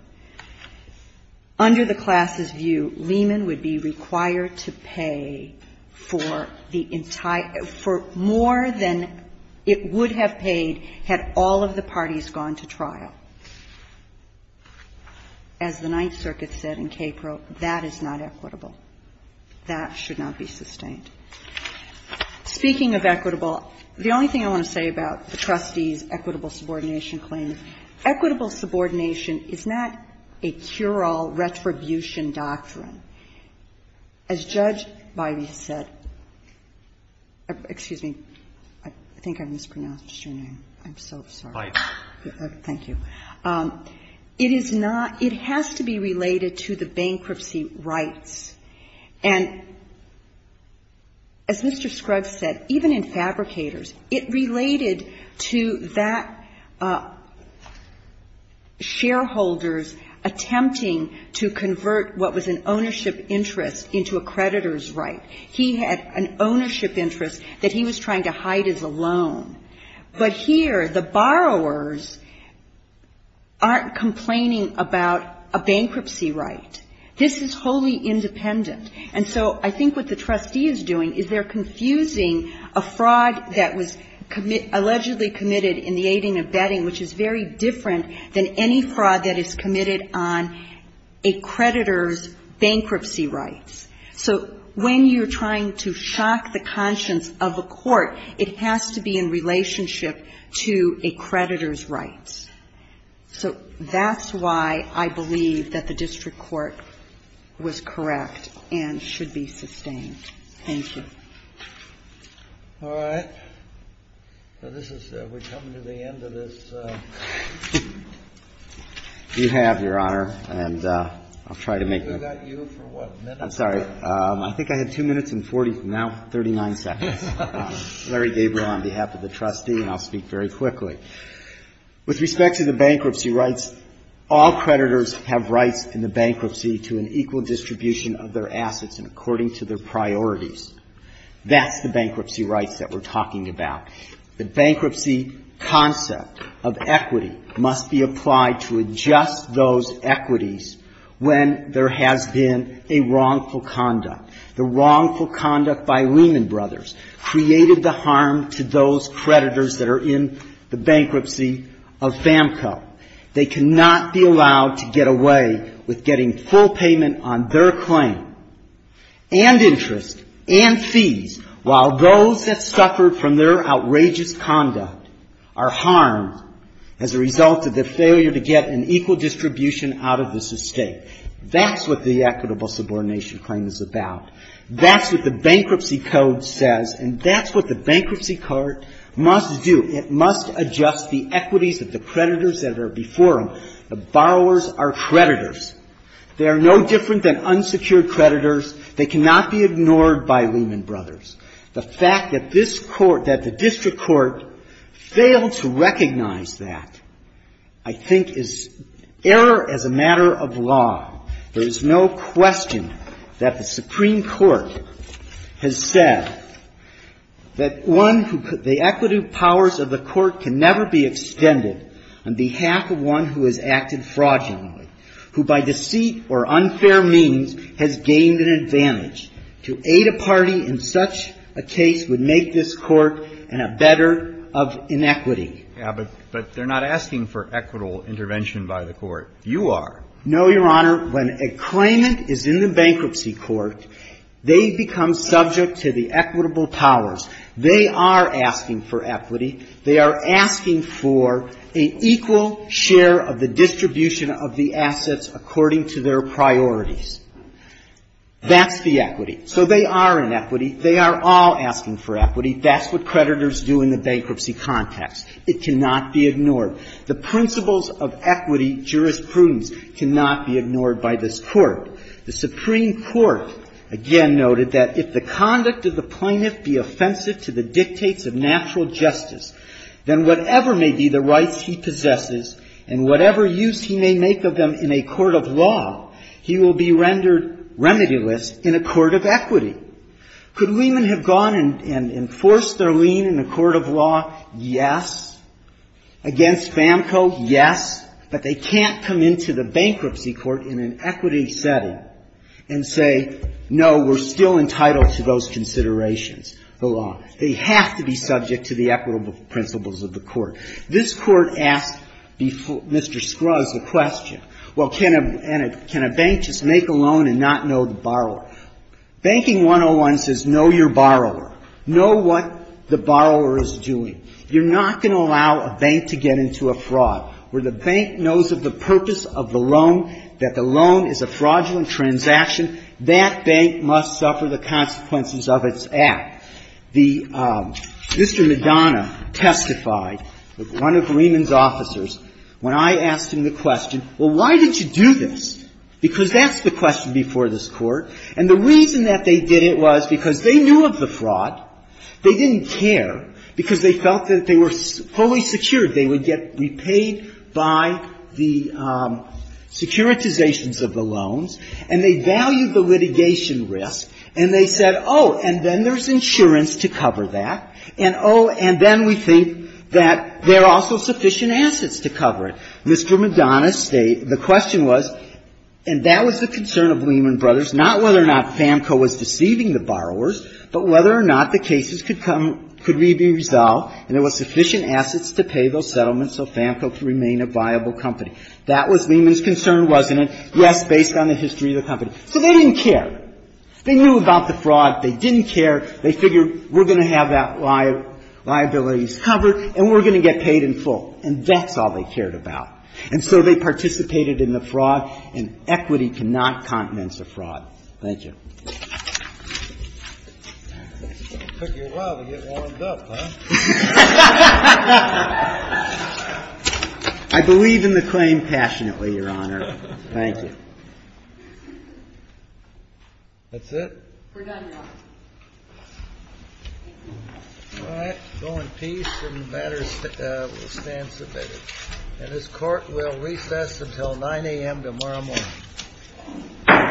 Under the class's view, Lehman would be required to pay for more than it would have paid had all of the parties gone to trial. As the Ninth Circuit said in Cape Grove, that is not equitable. That should not be sustained. Speaking of equitable, the only thing I want to say about the trustee's equitable subordination claim, equitable subordination is not a cure-all retribution doctrine. As Judge Biden said, excuse me, I think I mispronounced your name. I'm so sorry. Mike. Thank you. It has to be related to the bankruptcy rights. And as Mr. Scruggs said, even in fabricators, it related to that shareholder's attempting to convert what was an ownership interest into a creditor's right. He had an ownership interest that he was trying to hide as a loan. But here, the borrowers aren't complaining about a bankruptcy right. This is wholly independent. And so, I think what the trustee is doing is they're confusing a fraud that was allegedly committed in the aiding and abetting, which is very different than any fraud that is committed on a creditor's bankruptcy rights. So, when you're trying to shock the conscience of a court, it has to be in relationship to a creditor's rights. So, that's why I believe that the district court was correct and should be sustained. Thank you. All right. We're coming to the end of this. You have, Your Honor. I'll try to make this. I'm sorry. I think I had two minutes and 40, now 39 seconds. Larry Gabriel on behalf of the trustee, and I'll speak very quickly. With respect to the bankruptcy rights, all creditors have rights in the bankruptcy to an equal distribution of their assets and according to their priorities. That's the bankruptcy rights that we're talking about. The bankruptcy concept of equity must be applied to adjust those equities when there has been a wrongful conduct. The wrongful conduct by Lehman Brothers created the harm to those creditors that are in the bankruptcy of SAMHSA. They cannot be allowed to get away with getting full payment on their claim, and interest, and fees, while those that suffered from their outrageous conduct are harmed as a result of the failure to get an equal distribution out of this estate. That's what the equitable subordination claim is about. That's what the bankruptcy code says, and that's what the bankruptcy court must do. It's about the equities of the creditors that are before them. The borrowers are creditors. They are no different than unsecured creditors. They cannot be ignored by Lehman Brothers. The fact that this court, that the district court, failed to recognize that, I think, is error as a matter of law. There is no question that the Supreme Court has said that the equity powers of the court can never be extended on behalf of one who has acted fraudulently, who by deceit or unfair means has gained an advantage. To aid a party in such a case would make this court a better of inequity. Yeah, but they're not asking for equitable intervention by the court. You are. No, Your Honor. When a claimant is in the bankruptcy court, they become subject to the equitable powers. They are asking for equity. They are asking for an equal share of the distribution of the assets according to their priorities. That's the equity. So they are inequity. They are all asking for equity. It cannot be ignored. The principles of equity jurisprudence cannot be ignored by this court. The Supreme Court, again, noted that if the conduct of the claimant be offensive to the dictates of natural justice, then whatever may be the rights he possesses and whatever use he may make of them in a court of law, he will be rendered remedialist in a court of equity. Could Lehman have gone and enforced their lien in a court of law? Yes. Against FAMCO, yes, but they can't come into the bankruptcy court in an equity setting and say, no, we're still entitled to those considerations, the law. They have to be subject to the equitable principles of the court. This court asked Mr. Scruggs a question. Well, can a bank just make a loan and not know the borrower? Banking 101 says know your borrower. Know what the borrower is doing. You're not going to allow a bank to get into a fraud. Where the bank knows of the purpose of the loan, that the loan is a fraudulent transaction, that bank must suffer the consequences of its act. Mr. Madonna testified, one of Lehman's officers, when I asked him the question, well, why did you do this? Because that's the question before this court. And the reason that they did it was because they knew of the fraud. They didn't care because they felt that if they were fully secured, they would get repaid by the securitizations of the loans. And they valued the litigation risk. And they said, oh, and then there's insurance to cover that. And, oh, and then we think that there are also sufficient assets to cover it. Mr. Madonna stated, the question was, and that was the concern of Lehman Brothers, not whether or not FAMCO was deceiving the borrowers, but whether or not the cases could come, could be resolved, and there were sufficient assets to pay those settlements so FAMCO could remain a viable company. That was Lehman's concern, wasn't it? Yes, based on the history of the company. So they didn't care. They knew about the fraud. They didn't care. They figured we're going to have that liability covered and we're going to get paid in full. And that's all they cared about. And so they participated in the fraud, and equity cannot countenance a fraud. Thank you. It took you a while to get warmed up, huh? I believe in the claim passionately, Your Honor. Thank you. That's it? We're done. Thank you. All right. Go in peace and the matter will stand submitted. And this court will recess until 9 a.m. tomorrow morning.